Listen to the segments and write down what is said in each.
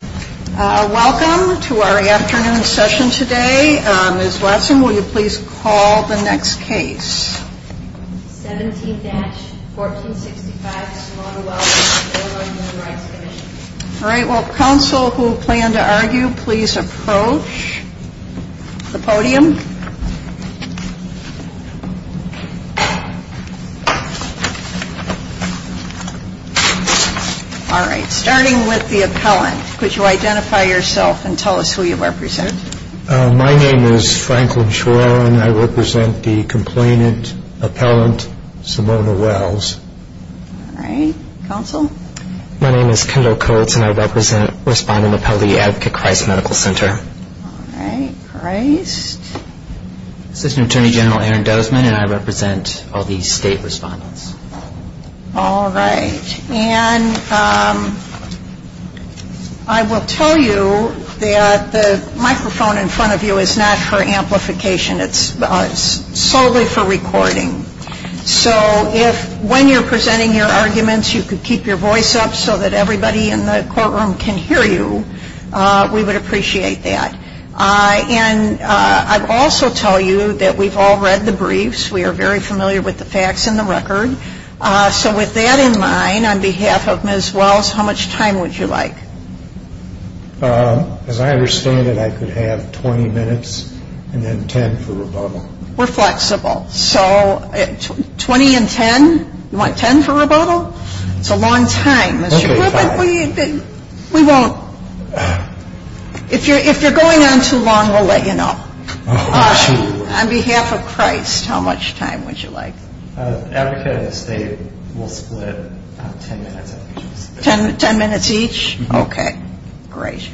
Welcome to our afternoon session today. Ms. Watson, will you please call the next case. Alright, will counsel who plan to argue please approach the podium. Alright, starting with the appellant, could you identify yourself and tell us who you represent. My name is Franklin Shore and I represent the complainant, appellant, Simone Wells. Alright, counsel. My name is Kendall Coates and I represent respondent, appellee at the Christ Medical Center. Alright, Christ. This is Attorney General Aaron Dozman and I represent all these state respondents. Alright, and I will tell you that the microphone in front of you is not for amplification. It's solely for recording. So if when you're presenting your arguments you could keep your voice up so that everybody in the courtroom can hear you, we would appreciate that. And I'd also tell you that we've all read the briefs. We are very familiar with the facts and the record. So with that in mind, on behalf of Ms. Wells, how much time would you like? As I understand it, I could have 20 minutes and then 10 for rebuttal. We're flexible. So 20 and 10? You want 10 for rebuttal? It's a long time. We won't. If you're going on too long, we'll let you know. On behalf of Christ, how much time would you like? 10 minutes each? Okay, great.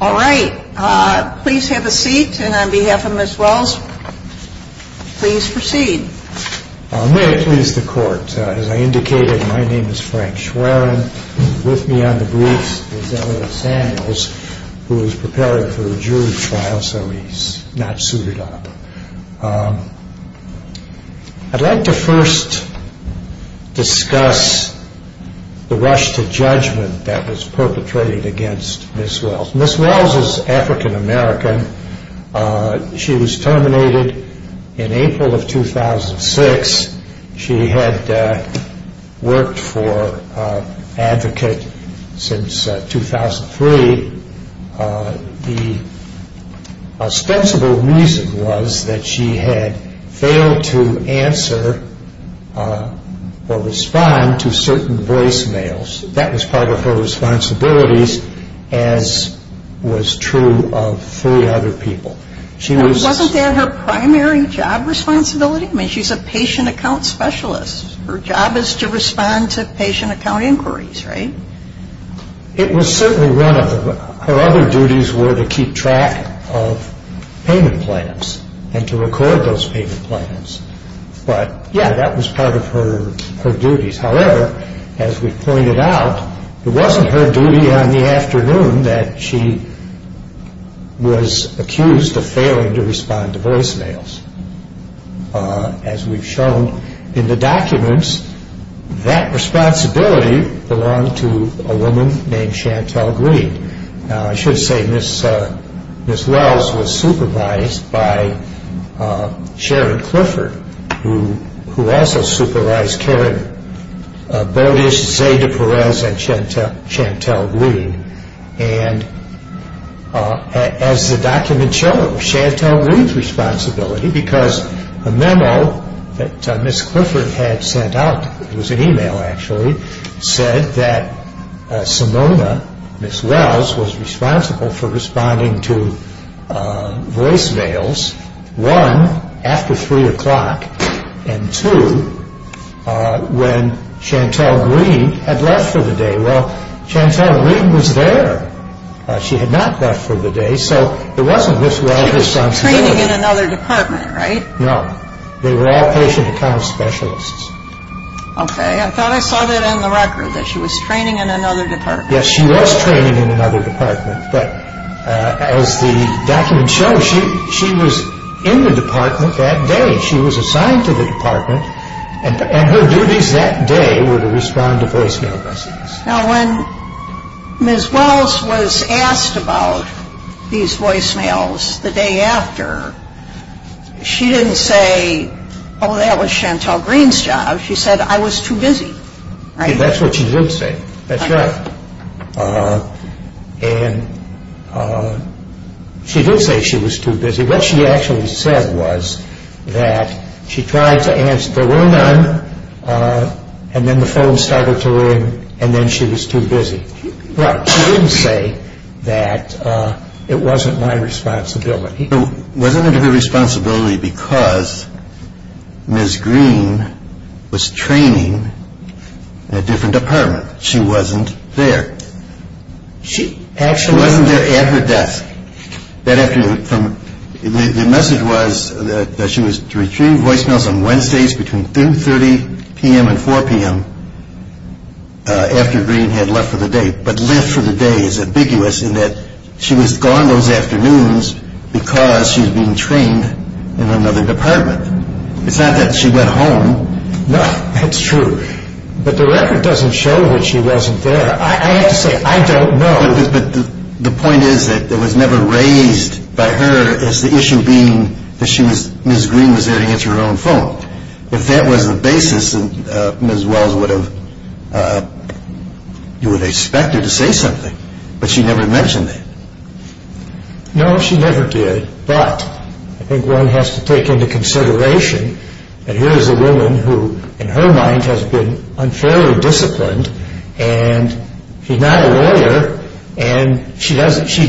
Alright, please have a seat and on behalf of Ms. Wells, please proceed. I'm very pleased to court. As I indicated, my name is Frank Schwerin. With me on the briefs is Eleanor Samuels, who is preparing for a jury trial, so he's not suited up. I'd like to first discuss the rush to judgment that was perpetrated against Ms. Wells. Ms. Wells is African American. She was terminated in April of 2006. She had worked for Advocate since 2003. The ostensible reason was that she had failed to answer or respond to certain voicemails. That was part of her responsibilities, as was true of three other people. Wasn't that her primary job responsibility? I mean, she's a patient account specialist. Her job is to respond to patient account inquiries, right? It was certainly one of them. Her other duties were to keep track of payment plans and to record those payment plans. But, yeah, that was part of her duties. However, as we pointed out, it wasn't her duty on the afternoon that she was accused of failing to respond to voicemails. As we've shown in the documents, that responsibility belonged to a woman named Chantelle Green. Now, I should say Ms. Wells was supervised by Sharon Clifford, who also supervised Karen Bodish, Xavier Perez, and Chantelle Green. And as the document shows, Chantelle Green's responsibility, because a memo that Ms. Clifford had sent out, it was an email actually, said that Simona, Ms. Wells, was responsible for responding to voicemails, one, after 3 o'clock, and two, when Chantelle Green had left for the day. Well, Chantelle Green was there. She had not left for the day, so it wasn't Ms. Wells' responsibility. She was training in another department, right? No. They were all patient account specialists. Okay. I thought I saw that on the record, that she was training in another department. Yes, she was training in another department, but as the document shows, she was in the department that day. She was assigned to the department, and her duties that day were to respond to voicemails. Now, when Ms. Wells was asked about these voicemails the day after, she didn't say, oh, that was Chantelle Green's job. She said, I was too busy, right? That's what she did say. That's right. And she did say she was too busy. What she actually said was that she tried to answer, there were none, and then the phone started to ring, and then she was too busy. She didn't say that it wasn't my responsibility. It wasn't her responsibility because Ms. Green was training in a different department. She wasn't there. She actually wasn't there after death. The message was that she was retrieving voicemails on Wednesdays between 3 and 4 p.m. after Green had left for the day. But left for the day is ambiguous in that she was gone those afternoons because she was being trained in another department. It's not that she went home. No, that's true. But the record doesn't show that she wasn't there. I have to say, I don't know. The point is that it was never raised by her as the issue being that Ms. Green was there to answer her own phone. If that was the basis, then Ms. Wells would have expected to say something, but she never mentioned it. No, she never did, but I think one has to take into consideration that here is a woman who, in her mind, has been unfairly disciplined, and she's not a lawyer, and she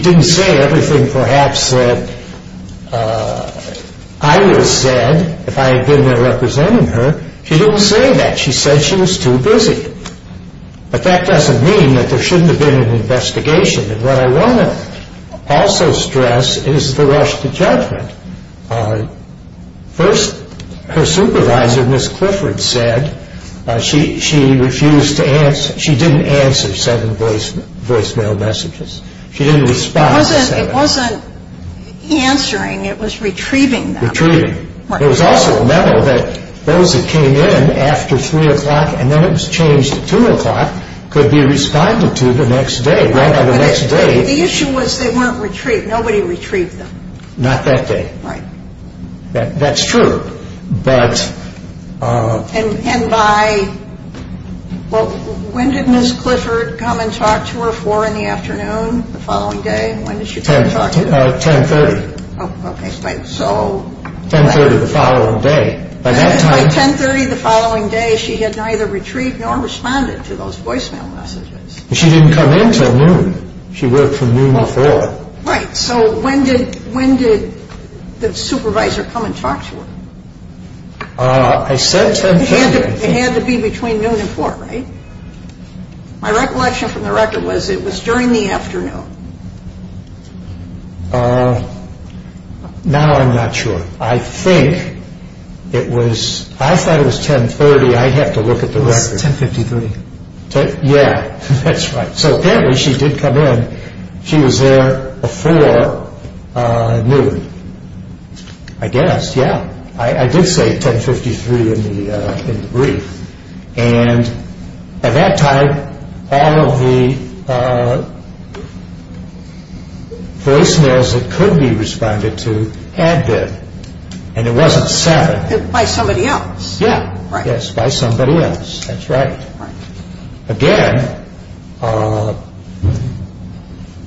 didn't say everything perhaps that I would have said if I had been there representing her. She didn't say that. She said she was too busy. But that doesn't mean that there shouldn't have been an investigation. And what I want to also stress is the rush to judgment. First, her supervisor, Ms. Clifford, said she refused to answer. She didn't answer seven voicemail messages. She didn't respond. It wasn't answering. It was retrieving them. Retrieving. There was also a memo that those that came in after 3 o'clock and then it was changed to 2 o'clock could be responded to the next day, right on the next day. The issue was they weren't retrieved. Nobody retrieved them. Not that day. Right. That's true, but... And by... Well, when did Ms. Clifford come and talk to her? 4 in the afternoon the following day? When did she come and talk to her? 10. 10.30. Oh, okay. So... 10.30 the following day. By 10.30 the following day, she had neither retrieved nor responded to those voicemail messages. She didn't come in till noon. She worked from noon to 4. Right. So when did the supervisor come and talk to her? I said 10.10. It had to be between noon and 4, right? My recollection from the record was it was during the afternoon. Now I'm not sure. I think it was... I thought it was 10.30. I'd have to look at the record. 10.53. But, yeah, that's right. So, anyway, she did come in. She was there before noon, I guess. Yeah. I did say 10.53 in the brief. And at that time, all of the voicemails that could be responded to had been. And it wasn't sent. By somebody else. Yeah. Right. Yes, by somebody else. That's right. Right. Again,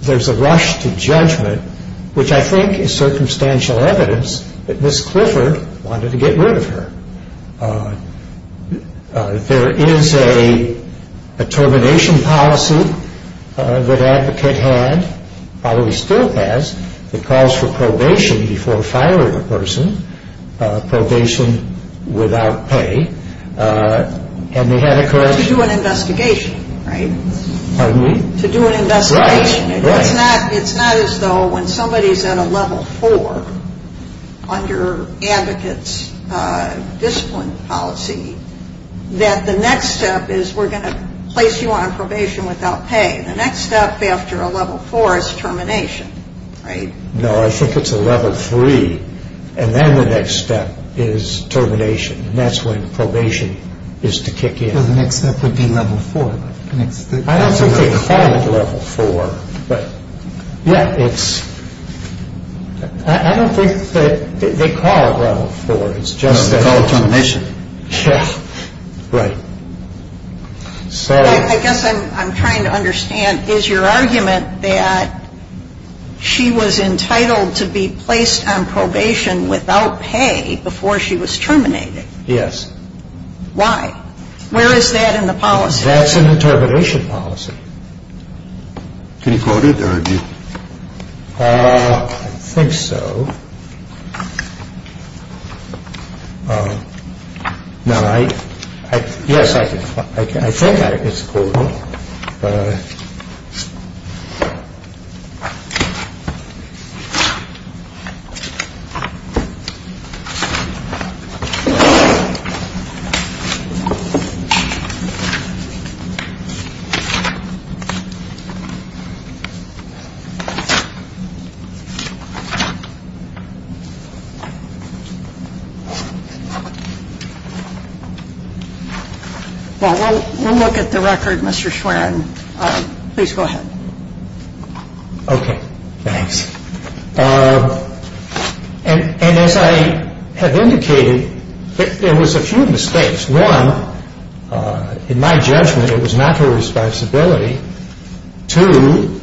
there's a rush to judgment, which I think is circumstantial evidence that Miss Clifford wanted to get rid of her. There is a termination policy that Advocate had, although he still has, that calls for probation before firing a person. Probation without pay. And they had a cause... To do an investigation, right? Pardon me? To do an investigation. Right, right. It's as though when somebody is at a level four under Advocate's discipline policy, that the next step is we're going to place you on probation without pay. The next step after a level four is termination, right? No, I think it's a level three. And then the next step is termination. And that's when probation is to kick in. So the next step would be level four. I don't think they call it level four, but... Yeah, it's... I don't think that they call it level four. It's just a recognition. Right. I guess I'm trying to understand, is your argument that she was entitled to be placed on probation without pay before she was terminated? Yes. Why? Where is that in the policy? That's in the termination policy. Can you quote it, or would you... I think so. No, I... Yes, I can. That is cool. All right. Thank you. Please go ahead. Okay, thanks. And as I have indicated, there was a few mistakes. One, in my judgment, it was not her responsibility. Two,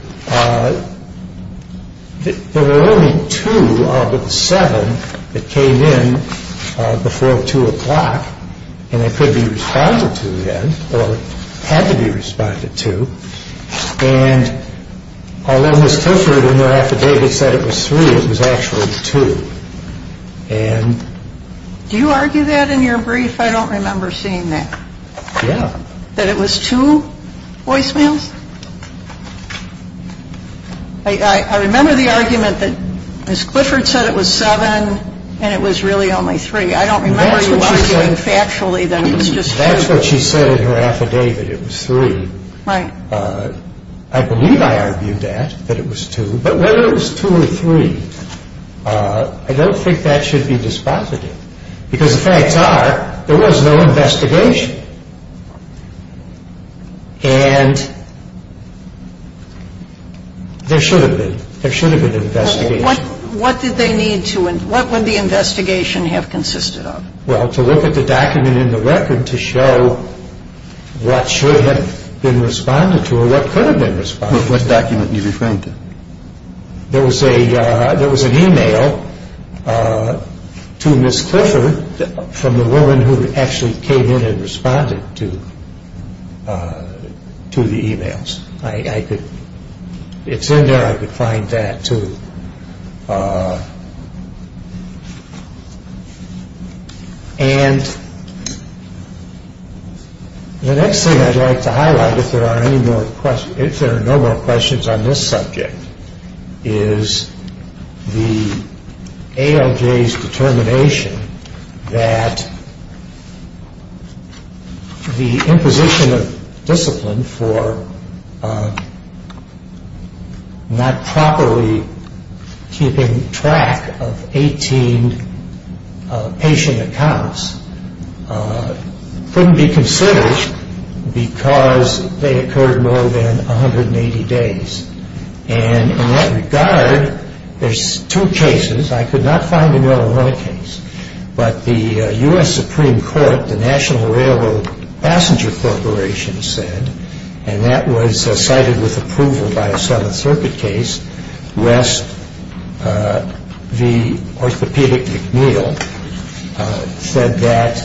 there were only two out of the seven that came in before 2 o'clock, and it could be responded to then, or had to be responded to. And although it was posted in there after David said it was three, it was actually two. And... Do you argue that in your brief? I don't remember seeing that. Yeah. That it was two voicemails? I remember the argument that Ms. Clifford said it was seven, and it was really only three. I don't remember you arguing factually that it was just three. That's what she said in her affidavit, it was three. Right. I believe I argued that, that it was two. But whether it was two or three, I don't think that should be dispositive. Because the facts are, there was no investigation. And there should have been. There should have been an investigation. What did they need to, what would the investigation have consisted of? Well, to look at the document in the record to show what should have been responded to or what could have been responded to. What document are you referring to? There was an e-mail to Ms. Clifford from the woman who actually came in and responded to the e-mails. It's in there. I could find that, too. And the next thing I'd like to highlight, if there are no more questions on this subject, is the ALJ's determination that the imposition of discipline for not properly keeping track of 18 patient accounts couldn't be considered because they occurred more than 180 days. And in that regard, there's two cases. I could not find the mill in those cases. But the U.S. Supreme Court, the National Railroad Passenger Corporation said, and that was cited with approval by a Southern Circuit case, the orthopedic mill said that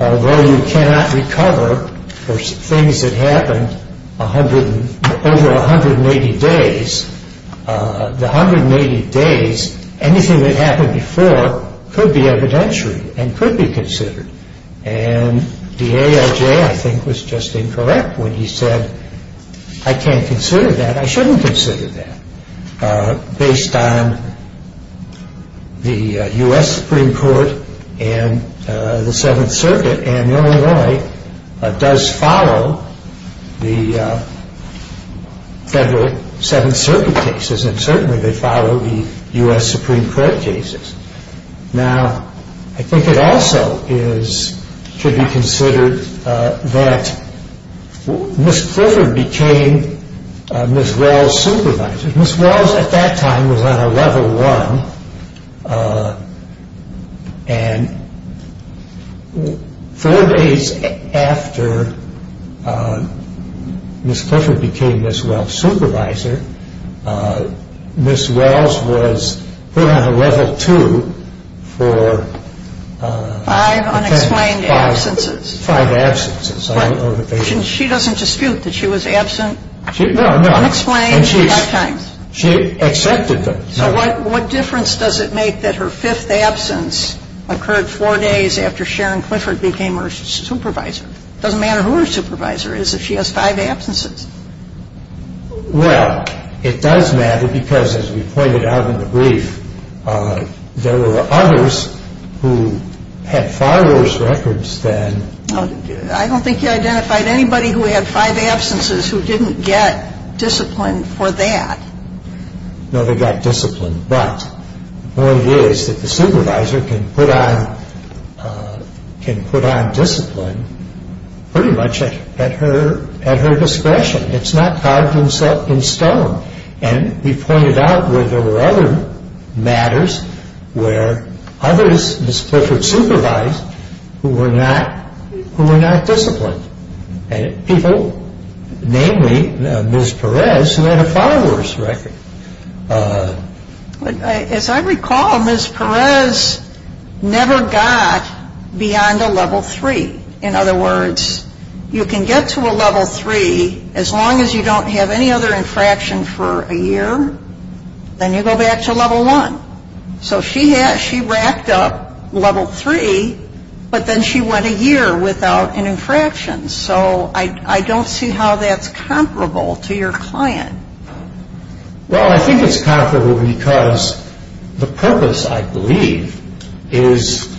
although you cannot recover for things that happened over 180 days, the 180 days, anything that happened before could be evidentiary and could be considered. And the ALJ, I think, was just incorrect when he said, I can't consider that, I shouldn't consider that, based on the U.S. Supreme Court and the Seventh Circuit. And the ALJ does follow the federal Seventh Circuit cases, and certainly they follow the U.S. Supreme Court cases. Now, I think it also should be considered that Ms. Clifford became Ms. Wells' supervisor. Ms. Wells, at that time, was on a level one. And four days after Ms. Clifford became Ms. Wells' supervisor, Ms. Wells was put on a level two for five absences. She doesn't dispute that she was absent unexplained at that time. She accepted that. So what difference does it make that her fifth absence occurred four days after Sharon Clifford became her supervisor? It doesn't matter who her supervisor is if she has five absences. Well, it does matter because, as we pointed out in the brief, there were others who had far worse records than- I don't think you identified anybody who had five absences who didn't get discipline for that. No, they got discipline. But the point is that the supervisor can put on discipline pretty much at her discretion. It's not carved in stone. And we pointed out where there were other matters where others, Ms. Clifford's supervisors, who were not disciplined. People, namely Ms. Perez, who had a far worse record. As I recall, Ms. Perez never got beyond a level three. In other words, you can get to a level three as long as you don't have any other infraction for a year, then you go back to level one. So she racked up level three, but then she went a year without an infraction. So I don't see how that's comparable to your client. Well, I think it's comparable because the purpose, I believe, is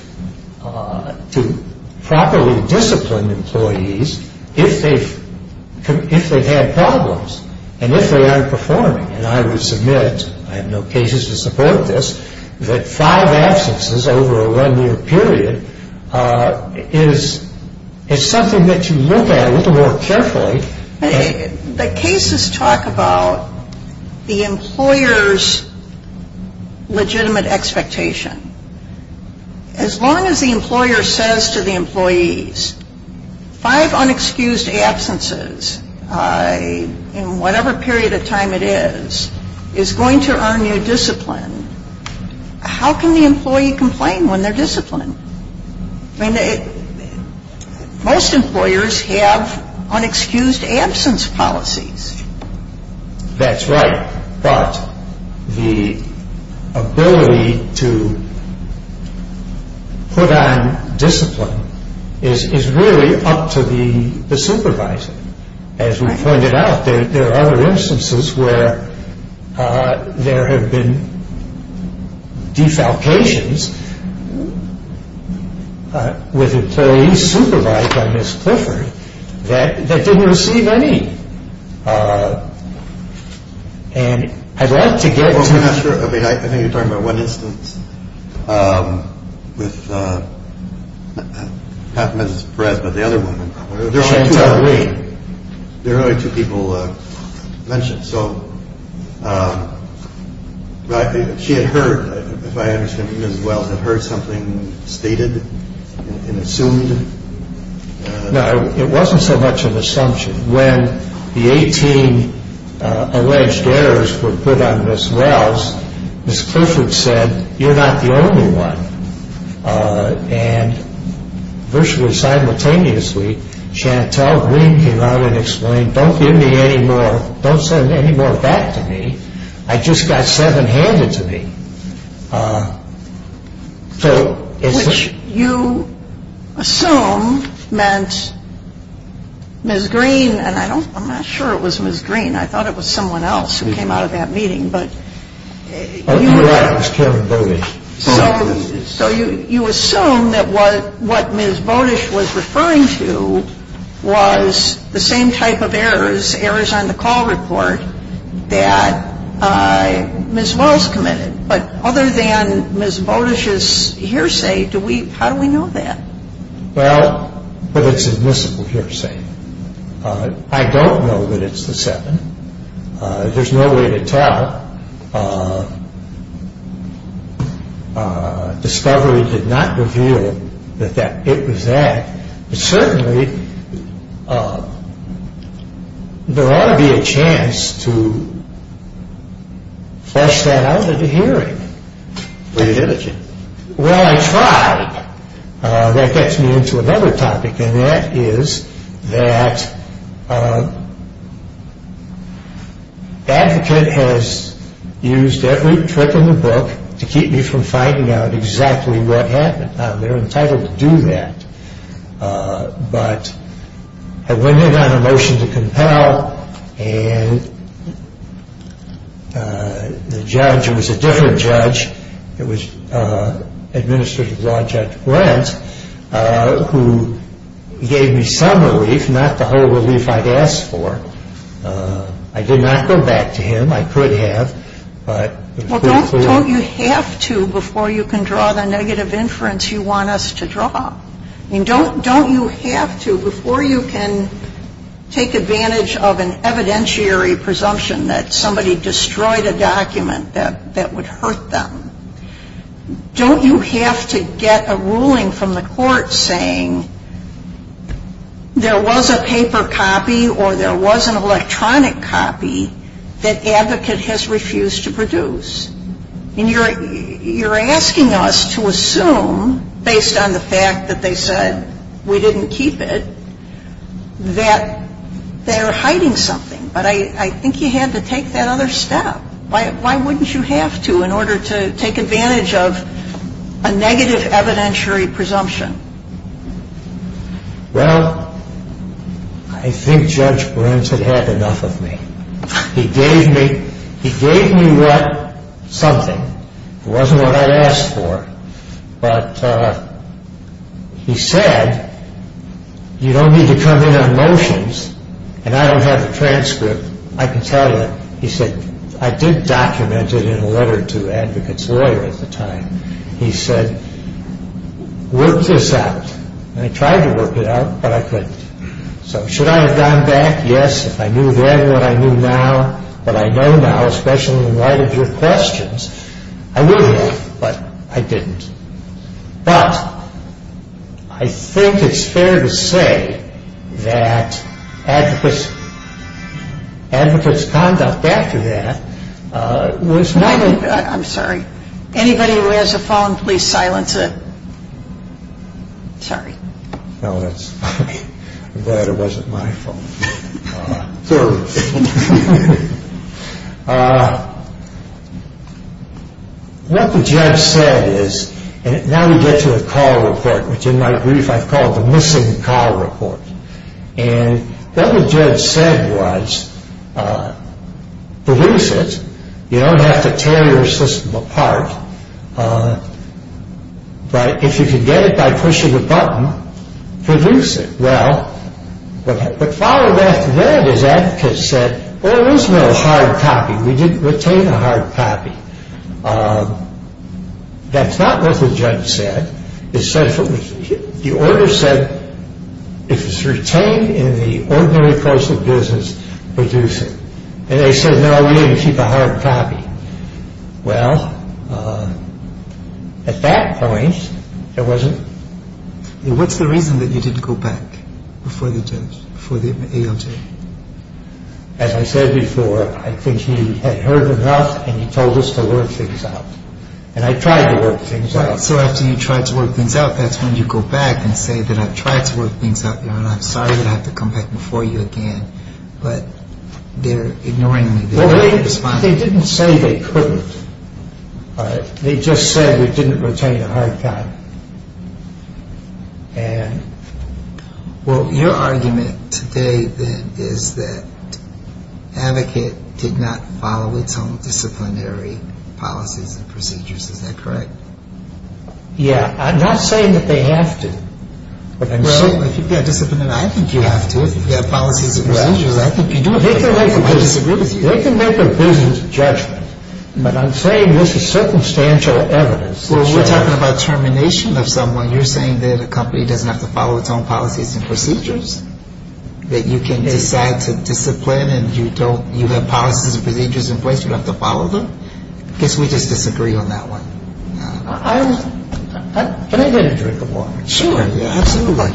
to properly discipline employees if they've had problems and if they aren't performing. And I will submit, I have no cases to support this, that five absences over a one-year period is something that you look at a little more carefully. The cases talk about the employer's legitimate expectation. As long as the employer says to the employees, five unexcused absences in whatever period of time it is, is going to earn you discipline. How can the employee complain when they're disciplined? Most employers have unexcused absence policies. That's right. But the ability to put on discipline is really up to the supervisor. As we pointed out, there are other instances where there have been defalcations with employees supervised by Ms. Clifford that didn't receive any. And I'd like to get to that. I think you're talking about one instance with half Ms. Brett, but the other one. There are only two people mentioned. So she had heard, if I understand you as well, had heard something stated and assumed. No, it wasn't so much an assumption. When the 18 alleged errors were put on Ms. Wells, Ms. Clifford said, you're not the only one. And virtually simultaneously, Chantelle Green came out and explained, don't give me any more, don't send any more back to me. I just got seven handed to me. Which you assume meant Ms. Green, and I'm not sure it was Ms. Green. I thought it was someone else who came out of that meeting. I was killing Bodeish. So you assume that what Ms. Bodeish was referring to was the same type of errors, errors on the call report that Ms. Wells committed. But other than Ms. Bodeish's hearsay, how do we know that? Well, but it's admissible hearsay. I don't know that it's the seven. There's no way to tell. Discovery did not reveal that it was that. But certainly there ought to be a chance to flesh that out at a hearing. Were you diligent? Well, I tried. That gets me into another topic, and that is that the advocate has used every trick in the book to keep you from finding out exactly what happened. They're entitled to do that. But when they got a motion to compel, and the judge, it was a different judge, it was Administrative Law Judge Wentz, who gave me some relief, not the whole relief I'd asked for. I did not go back to him. I could have. Well, don't you have to before you can draw the negative inference you want us to draw? Don't you have to before you can take advantage of an evidentiary presumption that somebody destroyed a document that would hurt them, don't you have to get a ruling from the court saying there was a paper copy or there was an electronic copy that the advocate has refused to produce? And you're asking us to assume, based on the fact that they said we didn't keep it, that they're hiding something. But I think you have to take that other step. Why wouldn't you have to in order to take advantage of a negative evidentiary presumption? Well, I think Judge Wentz had had enough of me. He gave me something. It wasn't what I'd asked for. But he said, you don't need to come in on motions, and I don't have a transcript. I can tell you, he said, I did document it in a letter to the advocate's lawyer at the time. He said, work this out. And I tried to work it out, but I couldn't. So should I have gone back? Yes, if I knew then what I knew now, what I know now, especially in light of your questions. I would have, but I didn't. But I think it's fair to say that advocate's conduct after that was not only good. I'm sorry. Anybody who has a phone, please silence it. Sorry. No, that's fine. That wasn't my phone. So what the judge said is, and now we get to the call report, which in my brief I call the missing call report. And what the judge said was, produce it. You don't have to tear your system apart. But if you can get it by pushing a button, produce it. Well, but following that, one of his advocates said, oh, we just want a hard copy. We didn't retain a hard copy. That's not what the judge said. The order said it was retained in the ordinary postal business, produce it. And they said, no, we only keep a hard copy. Well, at that point, it wasn't. What's the reason that you didn't go back before the ALJ? As I said before, I think he had heard enough and he told us to work things out. And I tried to work things out. So after you tried to work things out, that's when you go back and say that I tried to work things out, and I'm sorry I have to come back before you again. But they're ignoring me. They didn't say they couldn't. They just said we didn't retain a hard copy. Well, your argument today then is that advocates did not follow the common disciplinary policies and procedures. Is that correct? Yeah. I'm not saying that they have to. Well, I think you have to. They can make a business judgment. But I'm saying this is circumstantial evidence. Well, we're talking about termination of someone. You're saying there's a company that doesn't have to follow its own policies and procedures? That you can make that discipline and you have policies and procedures in place, you don't have to follow them? I guess we just disagree on that one. Can I get a drink of water? Sure, yeah, absolutely.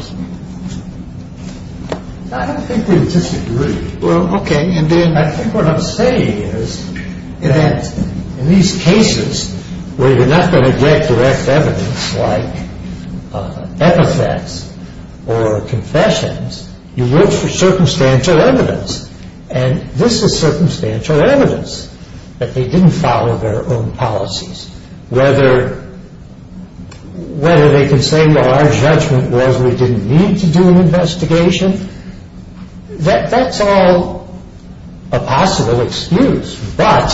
I don't think they disagree. Well, okay. And then I think what I'm saying is that in these cases where you're not going to get direct evidence like advocates or confessions, you look for circumstantial evidence, and this is circumstantial evidence that they didn't follow their own policies, whether they can say, well, our judgment was we didn't need to do an investigation. That's all a possible excuse. But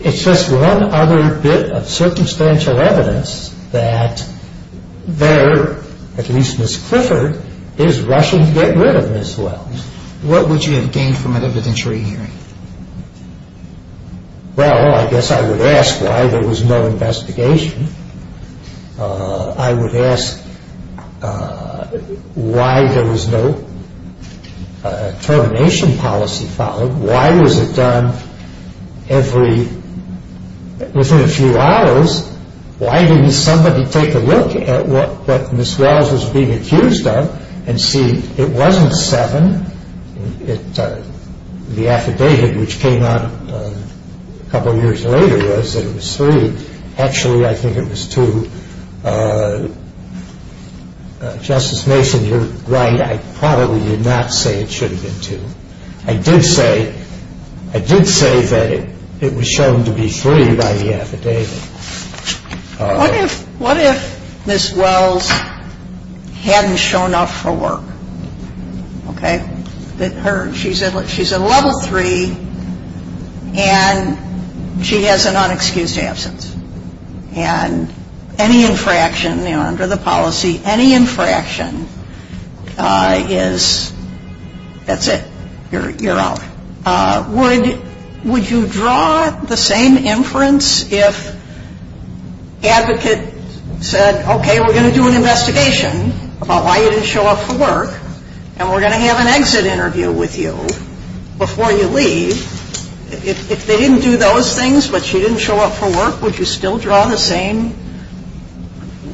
it's just one other bit of circumstantial evidence that there, at least Ms. Clifford, is rushing to get rid of as well. What would you have gained from it other than trade union? Well, I guess I would ask why there was no investigation. I would ask why there was no termination policy followed. Why was it done every, within a few hours, why didn't somebody take a look at what Ms. Wells was being accused of and see it wasn't seven, the affidavit which came out a couple years later was that it was three. Actually, I think it was two. Justice Mason, you're right. I probably did not say it should have been two. I did say that it was shown to be three by the affidavit. What if Ms. Wells hadn't shown up for work? She's a level three and she has an unexcused absence. And any infraction under the policy, any infraction is, that's it, you're out. Would you draw the same inference if the advocate said, okay, we're going to do an investigation about why you didn't show up for work and we're going to have an exit interview with you before you leave. If they didn't do those things, but she didn't show up for work, would you still draw the same,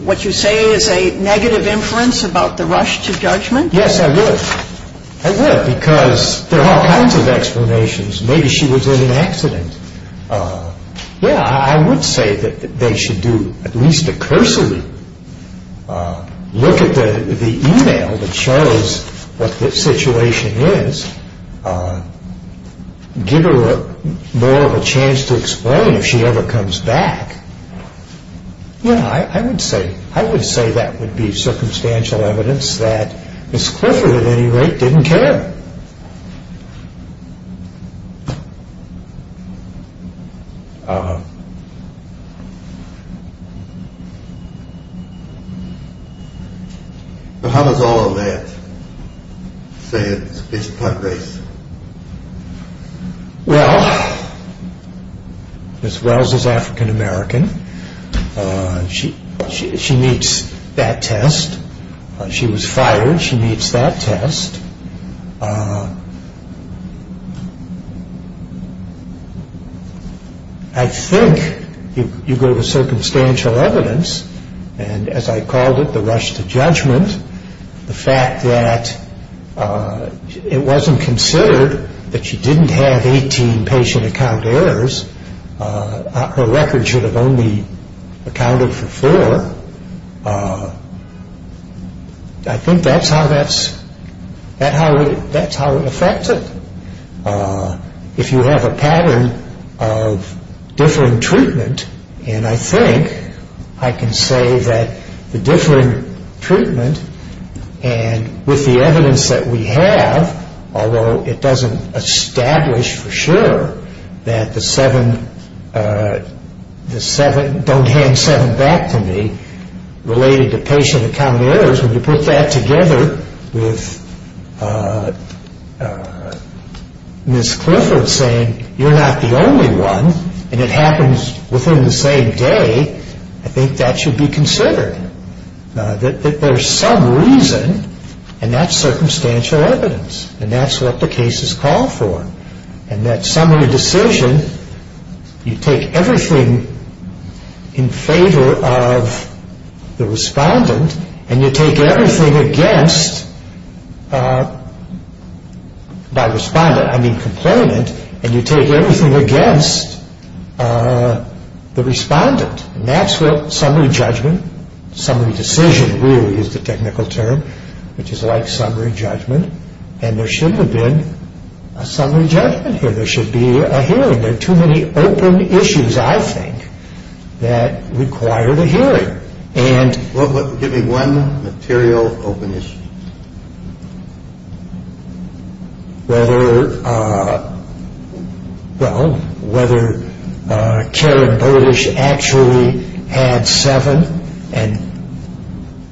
what you say is a negative inference about the rush to judgment? Yes, I would. I would because there are all kinds of explanations. Maybe she was in an accident. Yeah, I would say that they should do at least a cursory look at the e-mail that shows what the situation is, give her more of a chance to explain if she ever comes back. Yeah, I would say that would be circumstantial evidence that Ms. Glaser, at any rate, didn't care. Uh-huh. But how does all of that say that Ms. Glaser's not great? Well, Ms. Glaser's African-American. She meets that test. She was fired. She meets that test. I think you go to circumstantial evidence and, as I called it, the rush to judgment, the fact that it wasn't considered that she didn't have 18 patient account of errors, her records should have only accounted for four, I think that's how it affects it. If you have a pattern of different treatment, and I think I can say that the different treatment and with the evidence that we have, although it doesn't establish for sure that the seven don't hand seven back to me, related to patient account of errors, and you put that together with Ms. Clifford saying you're not the only one and it happens within the same day, I think that should be considered, that there's some reason, and that's circumstantial evidence, and that's what the case is called for, and that summary decision, you take everything in favor of the respondent, and you take everything against that respondent, I mean complainant, and you take everything against the respondent, and that's what summary judgment, summary decision really is the technical term, which is like summary judgment, and there shouldn't have been a summary judgment here, there should be a hearing, there are too many open issues, I think, that require the hearing. Give me one material open issue. Well, whether Karen Olish actually had seven, and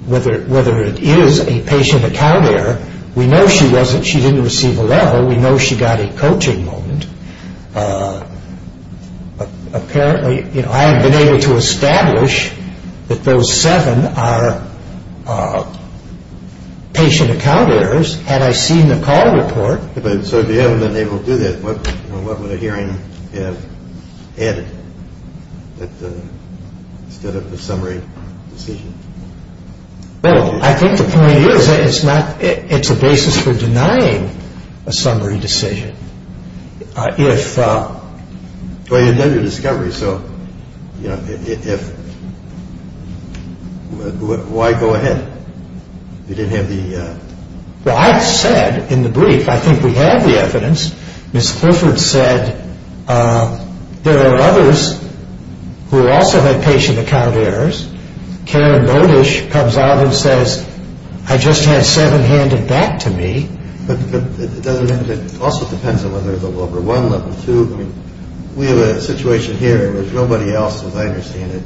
whether it is a patient account error, we know she didn't receive a level, we know she got a coaching moment, apparently I have been able to establish that those seven are patient account errors, and I've seen the call report. So if you haven't been able to do that, what would a hearing add to the summary decision? Well, I think the point is it's a basis for denying a summary decision. Well, you did the discovery, so why go ahead? You didn't have the- Well, I said in the brief, I think we have the evidence, Ms. Philford said there are others who also have patient account errors. Karen Olish comes out and says, I just had seven handed back to me. It also depends on whether it's a level one, level two. We have a situation here where there's nobody else, and I understand it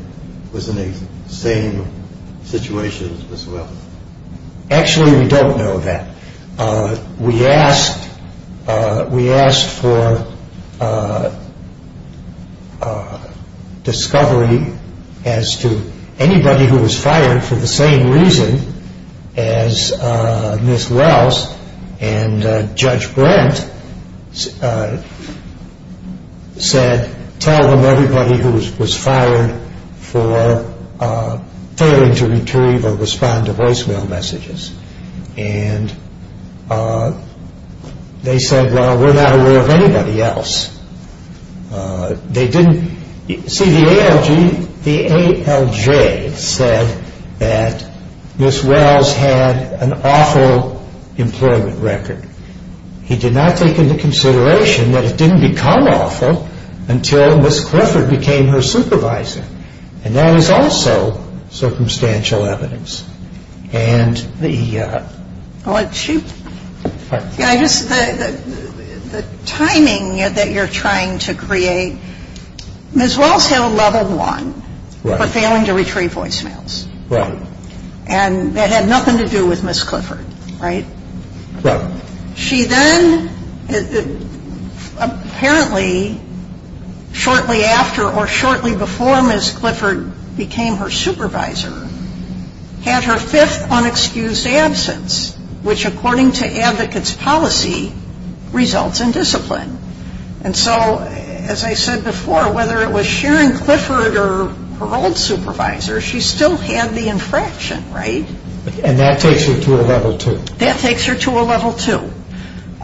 was in the same situation as Ms. Wells. Actually, we don't know that. We asked for discovery as to anybody who was fired for the same reason as Ms. Wells, and Judge Brent said tell them everybody who was fired for failing to retrieve or respond to voicemail messages. And they said, well, we're not aware of anybody else. See, the ALJ said that Ms. Wells had an awful employment record. He did not take into consideration that it didn't become awful until Ms. Philford became her supervisor, and that is also circumstantial evidence. The timing that you're trying to create, Ms. Wells had a level one for failing to retrieve voicemails, and that had nothing to do with Ms. Philford, right? She then, apparently, shortly after or shortly before Ms. Clifford became her supervisor, had her fifth unexcused absence, which, according to advocate's policy, results in discipline. And so, as I said before, whether it was Sharon Clifford or her old supervisor, she still had the infraction, right? And that takes her to a level two. That takes her to a level two.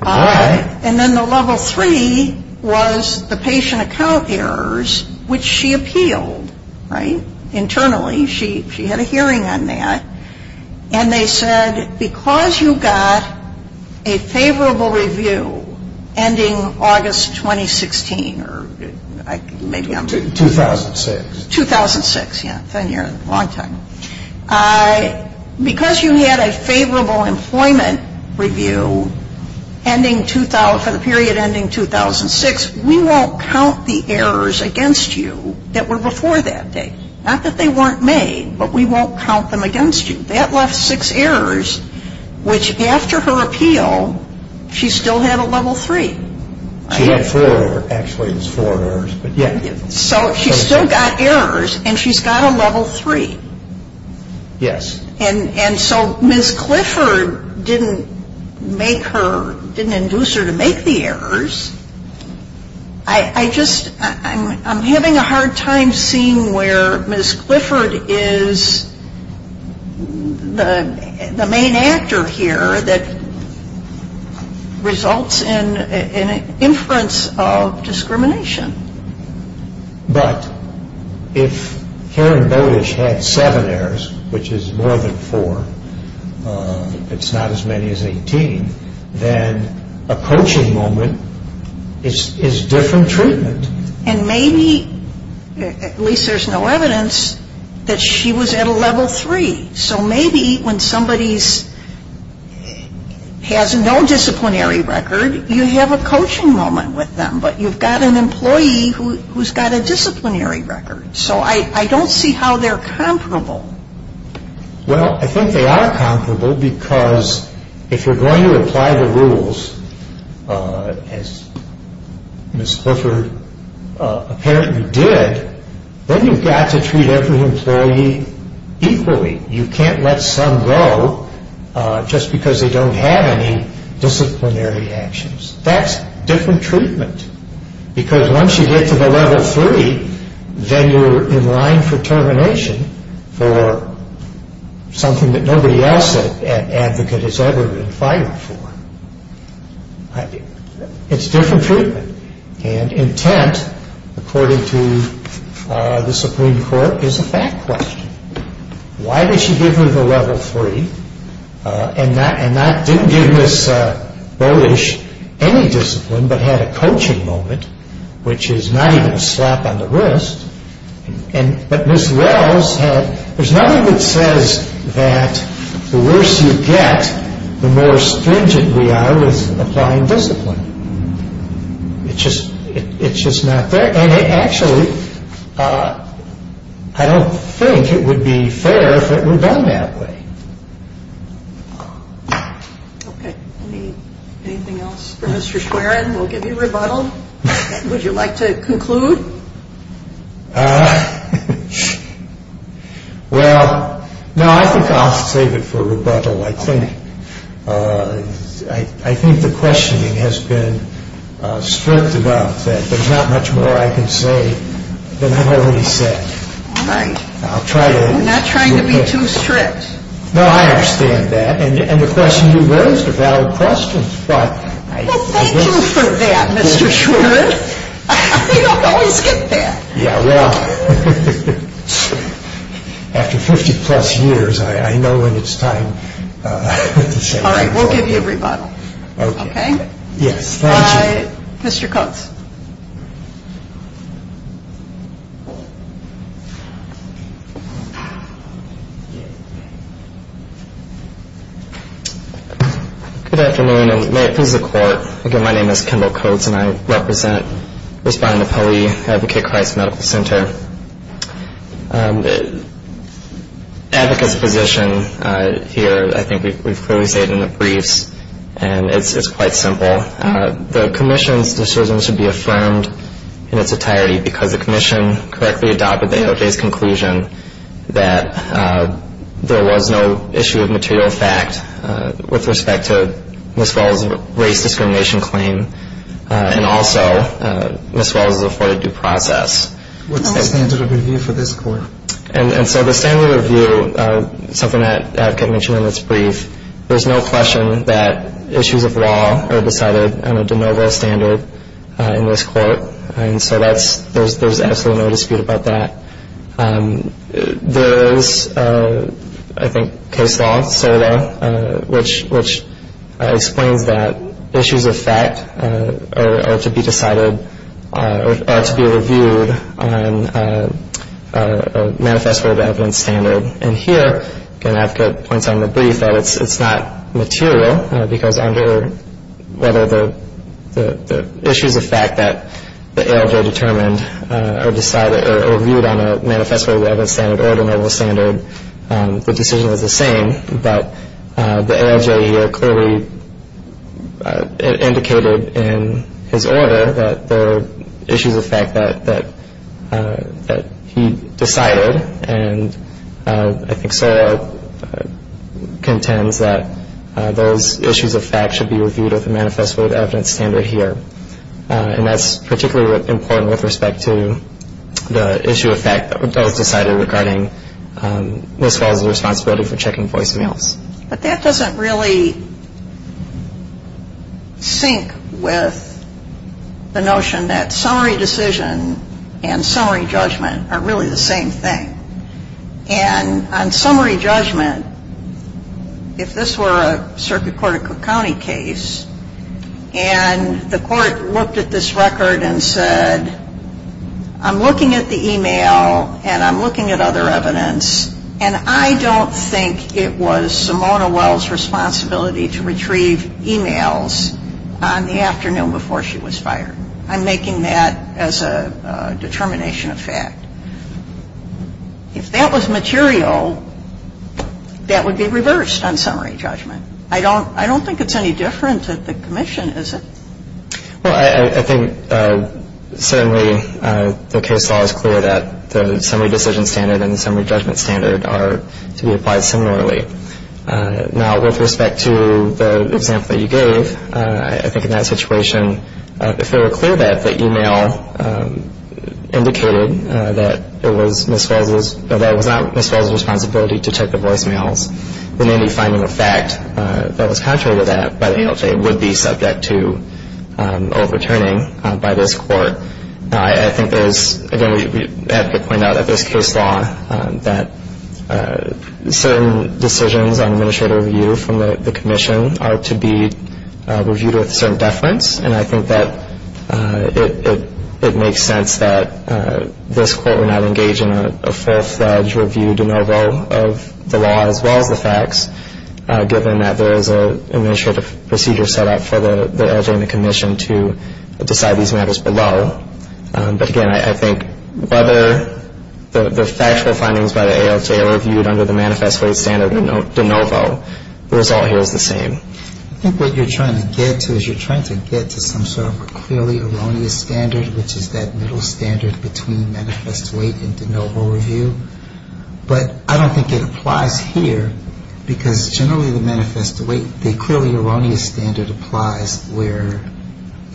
And then the level three was the patient account errors, which she appealed, right? Internally, she had a hearing on that, and they said because you got a favorable review ending August 2016 or maybe I'm wrong. 2006. 2006, yeah. It's on here. It's a long time. Because you had a favorable employment review for the period ending 2006, we won't count the errors against you that were before that date. Not that they weren't made, but we won't count them against you. That left six errors, which, after her appeal, she still had a level three. She had four, actually. It was four errors. So she still got errors, and she's got a level three. Yes. And so Ms. Clifford didn't induce her to make the errors. I'm having a hard time seeing where Ms. Clifford is the main actor here that results in an inference of discrimination. But if Karen Bowditch had seven errors, which is more than four, it's not as many as 18, then approaching moment is different treatment. And maybe, at least there's no evidence, that she was at a level three. So maybe when somebody has no disciplinary record, you have a coaching moment with them, but you've got an employee who's got a disciplinary record. So I don't see how they're comparable. Well, I think they are comparable because if you're going to apply the rules, as Ms. Clifford apparently did, then you've got to treat every employee equally. You can't let some go just because they don't have any disciplinary actions. That's different treatment because once you get to the level three, then you're in line for termination for something that nobody else at Advocate has ever been fighting for. It's different treatment. And intent, according to the Supreme Court, is a fact question. Why did she give him the level three and not give Ms. Bowditch any discipline, but had a coaching moment, which is not even a slap on the wrist? But Ms. Wells had, there's nothing that says that the worse you get, the more stringent we are with applying discipline. It's just not fair. And actually, I don't think it would be fair if it were done that way. Okay. Anything else for Mr. Squarron? We'll give you rebuttal. Would you like to conclude? Well, no, I think I'll save it for rebuttal. I think the questioning has been spurt about that. There's not much more I can say than I already said. I'm not trying to be too strict. No, I understand that. And the question you raised is a valid question. Well, thank you for that, Mr. Schwartz. You don't always get that. Yeah, well, after 50-plus years, I know when it's time to say it. All right. We'll give you a rebuttal. Okay. Okay? Yes. All right. Mr. Coates. Good afternoon, and may it please the Court, again, my name is Kendall Coates, and I represent the spinal poly advocate clients medical center. Advocates position here, I think we've clearly stated in the briefs, and it's quite simple. The commission's decision should be affirmed in its entirety because the commission correctly adopted the AOJ's conclusion that there was no issue of material facts with respect to Ms. Wells' race discrimination claim, and also Ms. Wells' afforded due process. What's the family review for this Court? And so the family review, something that I mentioned in this brief, is there's no question that issues of law are decided on a de novo standard in this Court, and so there's absolutely no dispute about that. There is, I think, case law, SODA, which explains that issues of fact are to be decided or to be reviewed on a manifesto of evidence standard. And here, again, I have to point out in the brief that it's not material, because under whether the issues of fact that the AOJ determined are decided or reviewed on a manifesto of evidence standard or de novo standard, the decision is the same, but the AOJ here clearly indicated in his order that there were issues of fact that he decided and I think SODA contends that those issues of fact should be reviewed on a manifesto of evidence standard here. And that's particularly important with respect to the issue of fact that was decided regarding Ms. Wells' responsibility for checking voice emails. But that doesn't really sync with the notion that summary decision and summary judgment are really the same thing. And on summary judgment, if this were a circuit court or county case and the court looked at this record and said, I'm looking at the email and I'm looking at other evidence and I don't think it was Simona Wells' responsibility to retrieve emails on the afternoon before she was fired. I'm making that as a determination of fact. If that was material, that would be reversed on summary judgment. I don't think it's any different at the commission, is it? Well, I think certainly the case law is clear that the summary decision standard and the summary judgment standard are to be applied similarly. Now, with respect to the example you gave, I think in that situation, if it were clear that the email indicated that it was Ms. Wells' responsibility to check the voicemails, we may be finding a fact that was contrary to that, but it would be subject to overturning by this court. I think there's, again, we have to point out that there's case law that certain decisions on administrative review from the commission are to be reviewed with certain deference, and I think that it makes sense that this court would not engage in a full-fledged review de novo of the law as well as the facts given that there is an administrative procedure set up for the agent and the commission to decide these matters below. But, again, I think whether the factual findings by the AOJ are reviewed under the manifesto standard de novo, the result here is the same. I think what you're trying to get to is you're trying to get to some sort of clearly erroneous standard, which is that middle standard between manifesto weight and de novo review. But I don't think it applies here, because generally the manifesto weight, the clearly erroneous standard applies where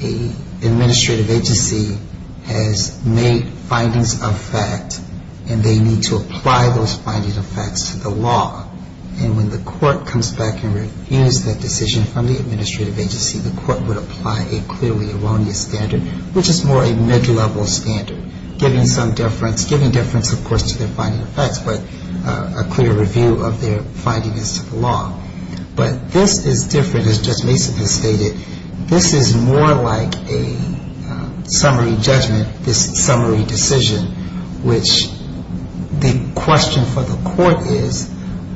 an administrative agency has made findings of fact and they need to apply those findings of fact to the law. And when the court comes back and reviews that decision from the administrative agency, the court would apply a clearly erroneous standard, which is more a negligible standard, giving some difference, giving difference, of course, to their findings of fact, but a clear review of their findings of the law. But this is different, as Judge Mason just stated. This is more like a summary judgment, a summary decision, which the question for the court is,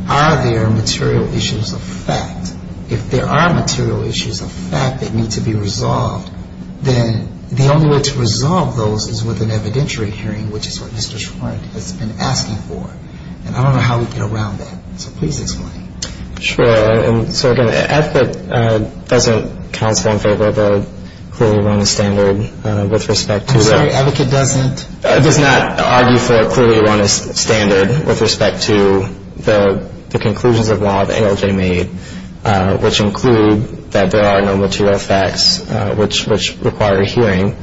are there material issues of fact? If there are material issues of fact that need to be resolved, then the only way to resolve those is with an evidentiary hearing, which is what Mr. Schwartz has been asking for. And I don't know how we get around that. So please explain. Sure. And so, again, it doesn't transcend over the clearly erroneous standard with respect to the- I'm sorry, advocate doesn't? I did not argue for a clearly erroneous standard with respect to the conclusions of law that ALJ made, which include that there are no material facts which require a hearing,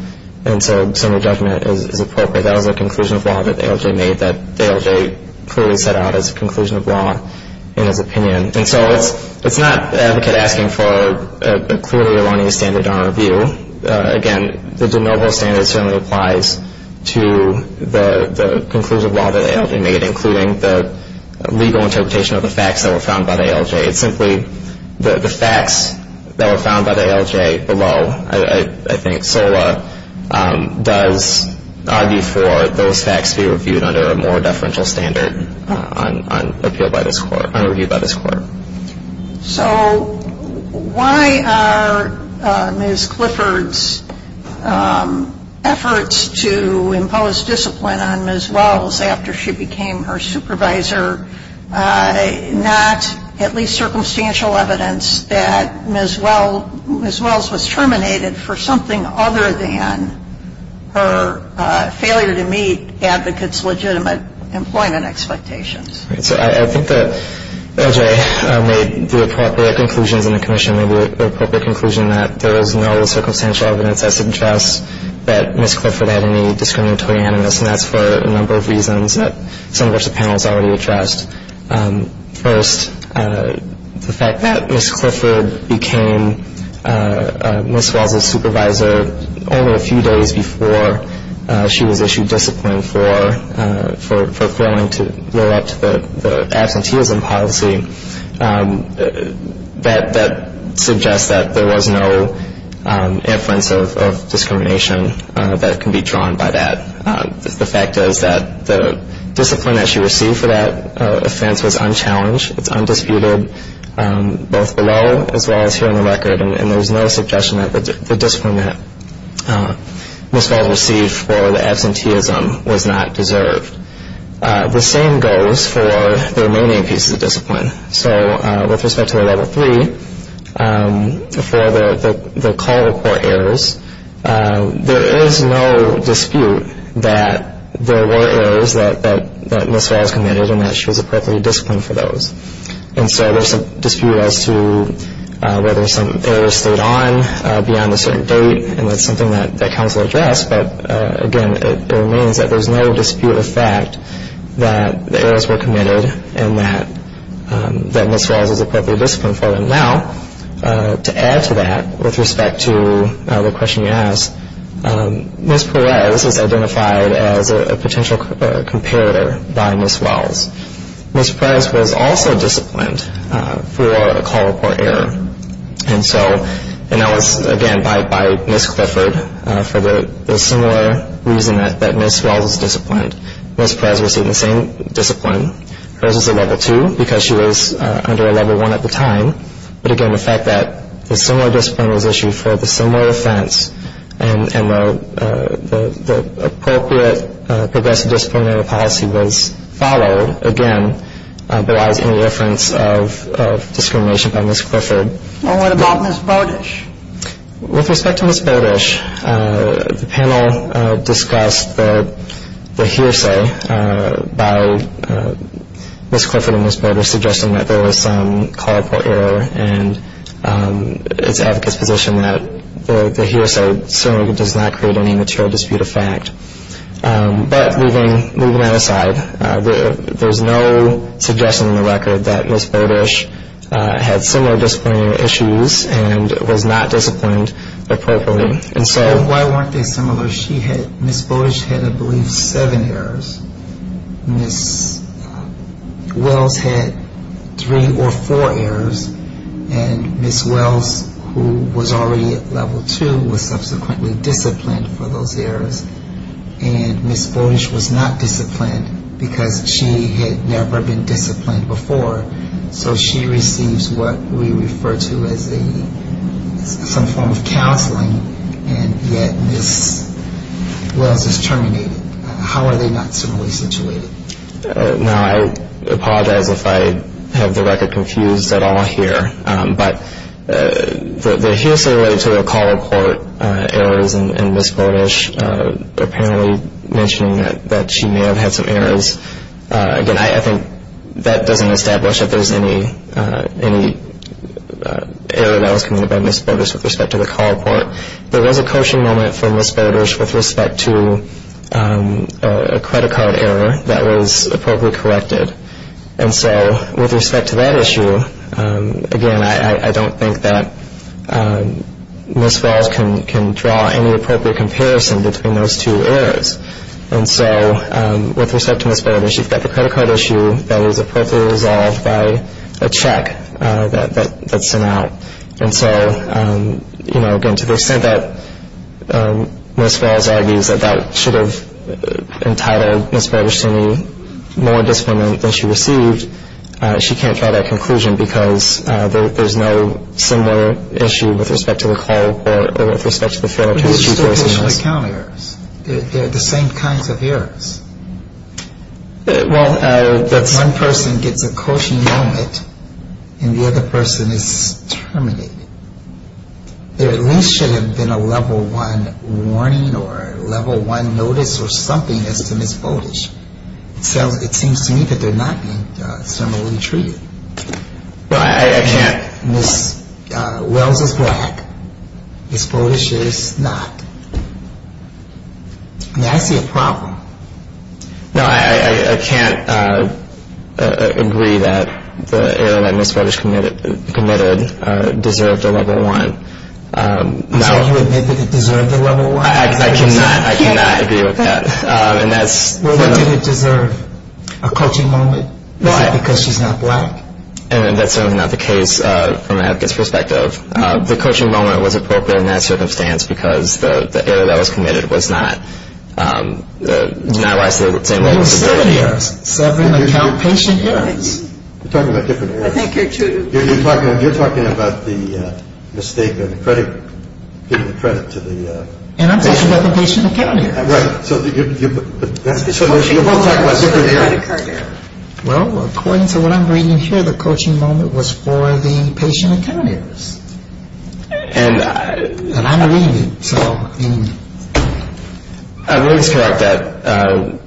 and so a summary judgment is appropriate out of a conclusion of law that ALJ made that ALJ clearly set out as a conclusion of law in its opinion. And so it's not advocate asking for a clearly erroneous standard on review. Again, there's a noble standard that certainly applies to the conclusions of law that ALJ made, including the legal interpretation of the facts that were found by the ALJ. Simply the facts that were found by the ALJ below, I think, SOLA does argue for those facts to be reviewed under a more deferential standard on review by this court. So why are Ms. Clifford's efforts to impose discipline on Ms. Wells after she became her supervisor not at least circumstantial evidence that Ms. Wells was terminated for something other than her failure to meet advocates' legitimate employment expectations? So I think that ALJ made the appropriate conclusion, and the commission made the appropriate conclusion that there is no circumstantial evidence that suggests that Ms. Clifford had any discriminatory animus, and that's for a number of reasons, some of which the panel has already addressed. First, the fact that Ms. Clifford became Ms. Wells' supervisor only a few days before she was issued discipline for failing to live up to the absenteeism policy, that suggests that there was no inference of discrimination that can be drawn by that. The fact is that the discipline that she received for that offense was unchallenged, undisputed, both below as well as here on the record, and there's no suggestion that the discipline that Ms. Wells received for the absenteeism was not deserved. The same goes for the remaining pieces of discipline. So with respect to the level three, for the call report errors, there is no dispute that there were errors that Ms. Wells committed and that she was appropriately disciplined for those. And so there's a dispute as to whether some errors slid on beyond a certain date, and that's something that counsel addressed, but again it remains that there's no dispute of fact that the errors were committed and that Ms. Wells was appropriately disciplined for them. Now, to add to that, with respect to the question you asked, Ms. Perez identified a potential comparator by Ms. Wells. Ms. Perez was also disciplined for a call report error, and so that was again by Ms. Clifford for the similar reason that Ms. Wells was disciplined. Ms. Perez received the same discipline. Perez was a level two because she was under a level one at the time, but again the fact that a similar discipline was issued for a similar offense and the appropriate progressive disciplinary policy was followed, again derives any reference of discrimination by Ms. Clifford. And what about Ms. Bardish? With respect to Ms. Bardish, the panel discussed the hearsay by Ms. Clifford and Ms. Bardish suggesting that there was some call report error and its advocate's position that the hearsay does not create any material dispute of fact. But moving that aside, there's no suggestion in the record that Ms. Bardish had similar disciplinary issues and was not disciplined appropriately. I want to get some of those. Ms. Bardish had I believe seven errors. Ms. Wells had three or four errors, and Ms. Wells, who was already at level two, was subsequently disciplined for those errors, and Ms. Bardish was not disciplined because she had never been disciplined before, so she receives what we refer to as some form of counseling, and yet Ms. Wells is terminated. How are they not similarly situated? Now, I apologize if I have the record confused at all here, but the hearsay related to the call report errors in Ms. Bardish, I think that doesn't establish that there's any error that was committed by Ms. Bardish with respect to the call report. There was a coaching moment for Ms. Bardish with respect to a credit card error that was appropriately corrected, and so with respect to that issue, again, I don't think that Ms. Wells can draw any appropriate comparison between those two errors. And so with respect to Ms. Bardish, she's got the credit card issue that was appropriately resolved by a check that sent out. And so, you know, again, to the extent that Ms. Wells argues about sort of entitled Ms. Bardish to more discipline than she received, she can't draw that conclusion because there's no similar issue with respect to the call report or with respect to the fail-to-retrieve errors. They're the same kind of errors. Well, one person gets a coaching moment and the other person is terminated. There at least should have been a level one warning or a level one notice or something that Ms. Bardish felt. It seems to me that they're not being similarly treated. Well, I can't. Ms. Wells is black. Ms. Bardish is not. May I see a problem? No, I can't agree that the error that Ms. Bardish committed deserved a level one. Would you admit that it deserved a level one? I cannot. I cannot agree with that. Would it deserve a coaching moment? Why? Because she's not black. And that's certainly not the case from an advocate's perspective. The coaching moment was appropriate in that circumstance because the error that was committed was not likely to have the same level of severity. It was a failure. Failure in the presentation area. You're talking about different areas. I think you're too. You're talking about the mistake in the credit to the patient. In the presentation area. Right. Well, according to what I'm reading here, the coaching moment was for the patient account errors. And I'm reading. Let me just correct that.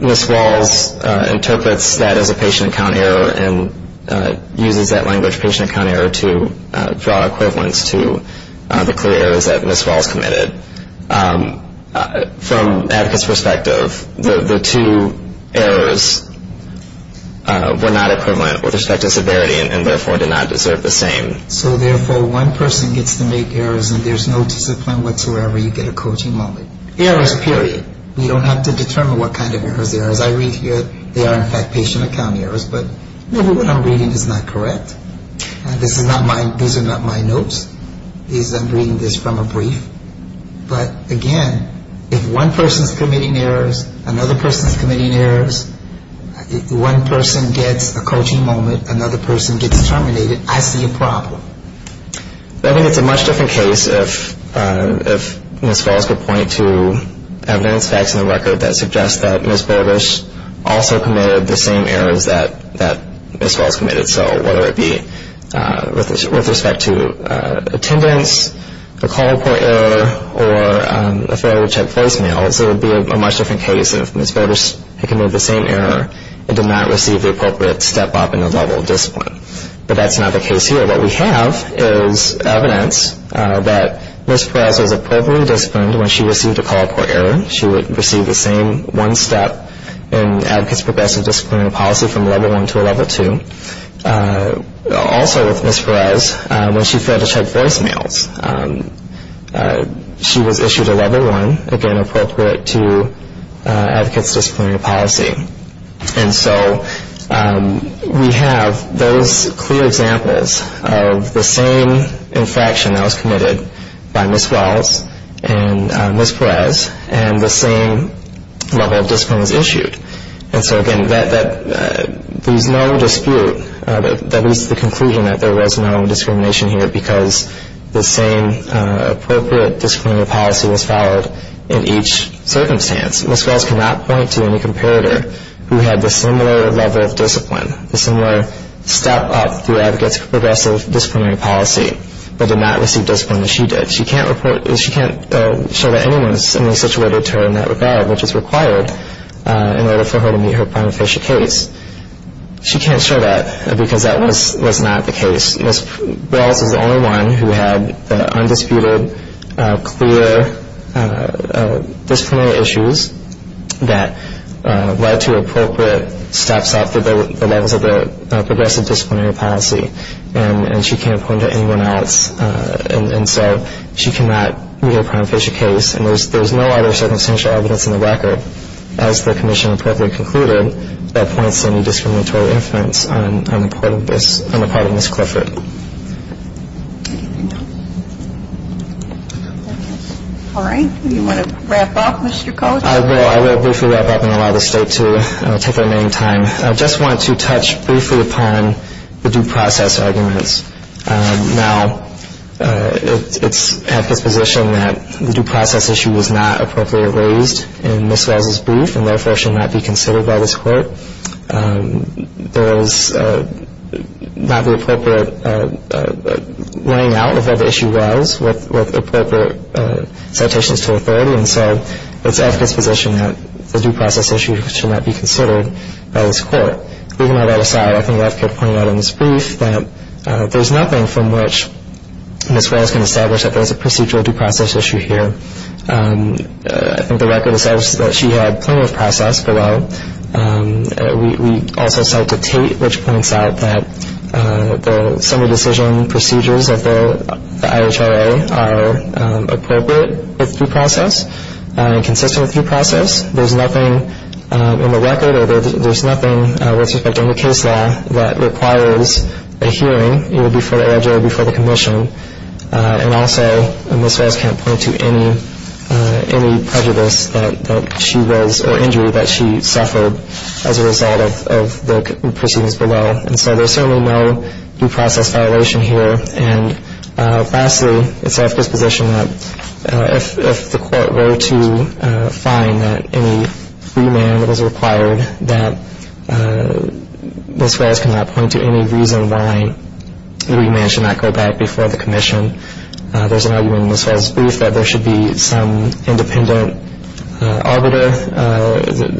Ms. Wells interprets that as a patient account error and uses that language, patient account error, to draw equivalence to the career errors that Ms. Wells committed. From an advocate's perspective, the two errors were not equivalent with respect to severity and, therefore, did not deserve the same. So, therefore, one person gets to make errors and there's no discipline whatsoever. You get a coaching moment. Errors, period. You don't have to determine what kind of errors there are. As I read here, there are, in fact, patient account errors, but maybe what I'm reading is not correct. These are not my notes. I'm reading this from a brief. But, again, if one person is committing errors, another person is committing errors, if one person gets a coaching moment, another person gets terminated, I see a problem. I think it's a much different case if Ms. Wells would point to evidence that's in the record that suggests that Ms. Borges also committed the same errors that Ms. Wells committed. So whether it be with respect to attendance, a call-up point error, or a failure to check personnel, it would be a much different case if Ms. Borges committed the same error and did not receive the appropriate step-up in the level of discipline. But that's not the case here. What we have is evidence that Ms. Wells was appropriately disciplined when she received a call-up point error. She received the same one-step in advocates' professional disciplinary policy from a level one to a level two. Also with Ms. Perez, when she failed to check personnel, she was issued a level one, again, appropriate to advocates' disciplinary policy. And so we have those clear examples of the same infraction that was committed by Ms. Wells and Ms. Perez and the same level of discipline was issued. And so, again, there's no dispute that leads to the conclusion that there was no discrimination here because the same appropriate disciplinary policy was followed in each circumstance. Ms. Wells cannot point to any comparator who had the similar level of discipline, the similar step-up through advocates' progressive disciplinary policy, but did not receive discipline as she did. She can't report, she can't show that anyone is similarly situated to her in that regard, which is required in order for her to meet her punitive case. She can't show that because that was not the case. Ms. Wells was the only one who had undisputed, clear disciplinary issues that led to appropriate steps-up to the levels of the progressive disciplinary policy, and she can't point to anyone else. And so she cannot meet her punitive case, and there's no other circumstantial evidence in the record, as the commission appropriately concluded, that points to any discriminatory influence on the part of Ms. Clifford. All right. Do you want to wrap up, Mr. Coates? I will. I will briefly wrap up and allow the state to take their main time. I just want to touch briefly upon the due process arguments. Now, it's at the position that the due process issue was not appropriately raised in Ms. Wells' brief, and therefore should not be considered by this court. There was not the appropriate laying out of what the issue was with appropriate citations to the court, and so it's at this position that the due process issue should not be considered by this court. Moving all that aside, I think I left it pointed out in this brief that there's nothing from which Ms. Wells can establish that there's a procedural due process issue here. I think the record establishes that she had plaintiff's process below, and we also started to take which points out that the summary decision procedures of the IHRA are appropriate due process and consistent with due process. There's nothing in the record or there's nothing with respect to any case law that requires a hearing, either before the IHRA or before the commission, and I'll say that Ms. Wells can't point to any prejudice that she rose or injury that she suffered as a result of the proceedings below. And so there's certainly no due process violation here, and lastly, it's at this position that if the court were to find that any remand was required, that Ms. Wells cannot point to any reason why the remand should not go back before the commission. There's an argument in Ms. Wells' brief that there should be some independent arbiter.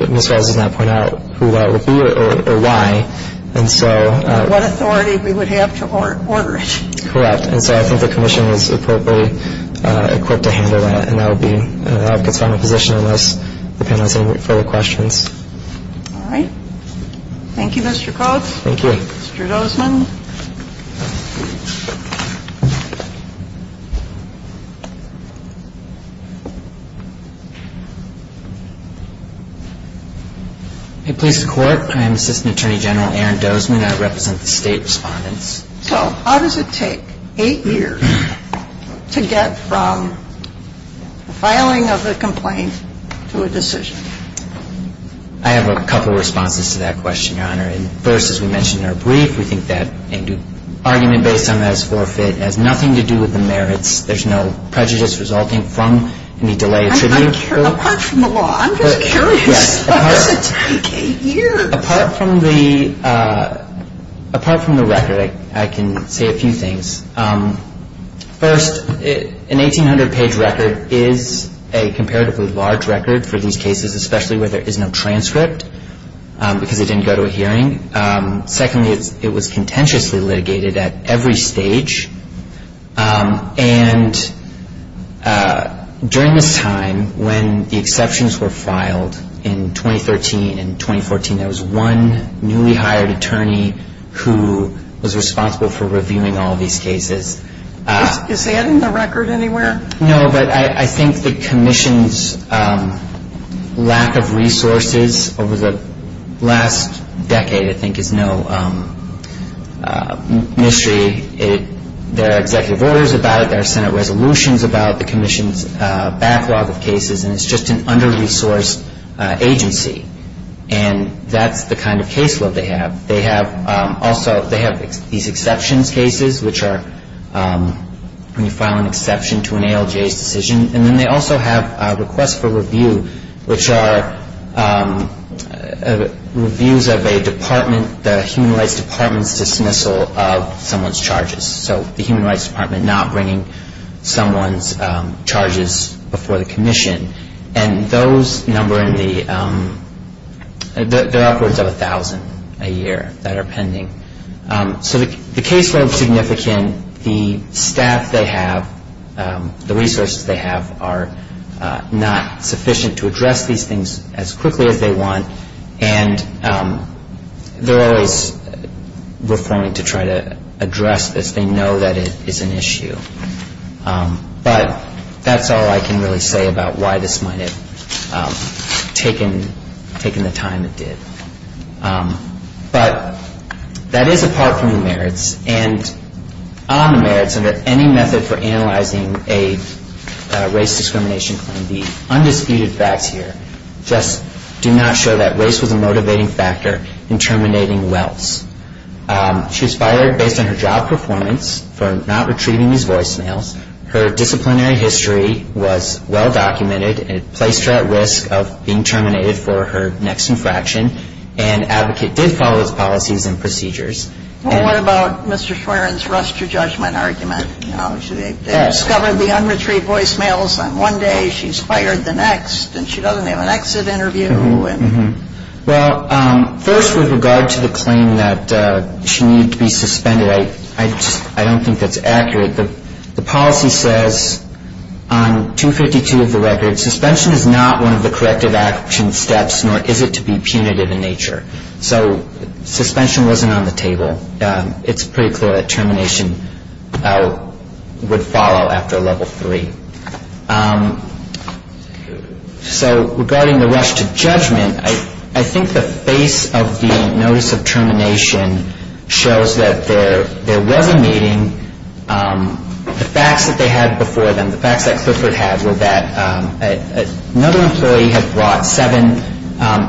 Ms. Wells did not point out who that would be or why. What authority we would have to order it. Correct. And so I think the commission is appropriately equipped to handle that, and I'll be at the time of submission unless the panel has any further questions. All right. Thank you, Mr. Koch. Thank you. Mr. Dozman. Hey, police and court. I'm Assistant Attorney General Aaron Dozman. I represent the state respondents. So how does it take eight years to get from the filing of a complaint to a decision? I have a couple of responses to that question, Your Honor. And first, as we mentioned in our brief, the argument based on that is forfeit. It has nothing to do with the merits. There's no prejudice resulting from any delay. Apart from the law, I'm just curious. Yes. Apart from the record, I can say a few things. First, an 1,800-page record is a comparatively large record for these cases, especially where there is no transcript because it didn't go to a hearing. Secondly, it was contentiously litigated at every stage. And during the time when the exceptions were filed in 2013 and 2014, there was one newly hired attorney who was responsible for reviewing all these cases. Is that in the record anywhere? No, but I think the Commission's lack of resources over the last decade, I think, is no mystery. There are executive orders about it. There are Senate resolutions about the Commission's backlog of cases. And it's just an under-resourced agency. And that's the kind of caseload they have. Also, they have these exceptions cases, which are when you file an exception to an ALJ decision. And then they also have requests for review, which are reviews of a department, the Human Rights Department's dismissal of someone's charges. So the Human Rights Department not bringing someone's charges before the Commission. And those number in the upwards of 1,000 a year that are pending. So the caseload is significant. The staff they have, the resources they have, are not sufficient to address these things as quickly as they want. And there are ways we're going to try to address this. They know that it is an issue. But that's all I can really say about why this might have taken the time it did. But that is apart from the merits. And on the merits, under any method for analyzing a race discrimination claim, the undisputed facts here just do not show that race was a motivating factor in terminating wells. She was fired based on her job performance for not retrieving these voicemails. Her disciplinary history was well documented. It placed her at risk of being terminated for her next infraction. And Advocate did follow those policies and procedures. What about Mr. Swearen's ruster judgment argument? She discovered the unretrieved voicemails, and one day she's fired the next. And she doesn't have an exit interview. Well, first with regard to the claim that she needs to be suspended, I don't think that's accurate. The policy says on 252 of the record, suspension is not one of the corrective action steps, nor is it to be punitive in nature. So suspension wasn't on the table. It's pretty clear that termination would follow after level three. So regarding the rush to judgment, I think the face of the notice of termination shows that they're well-meaning. The fact that they had before them, the fact that Clifford had, was that another employee had brought seven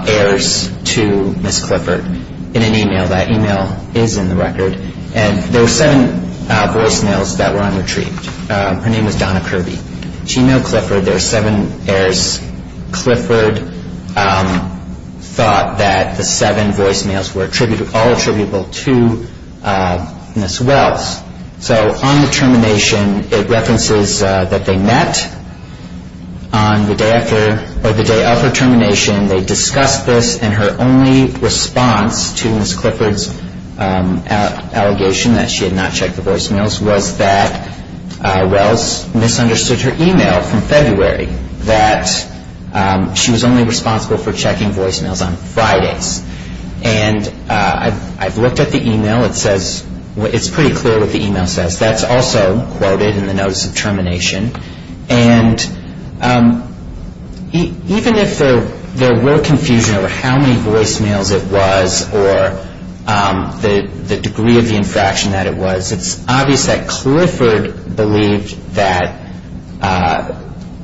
heirs to Ms. Clifford in an email. That email is in the record. And there were seven voicemails that were unretrieved. Her name is Donna Kirby. She mailed Clifford their seven heirs. Clifford thought that the seven voicemails were all attributable to Ms. Wells. So on the termination, it references that they met. On the day of her termination, they discussed this, and her only response to Ms. Clifford's allegation that she had not checked the voicemails was that Wells misunderstood her email from February, that she was only responsible for checking voicemails on Fridays. And I looked at the email. It's pretty clear what the email says. That's also quoted in the notice of termination. And even if there were confusion over how many voicemails it was or the degree of the infraction that it was, it's obvious that Clifford believed that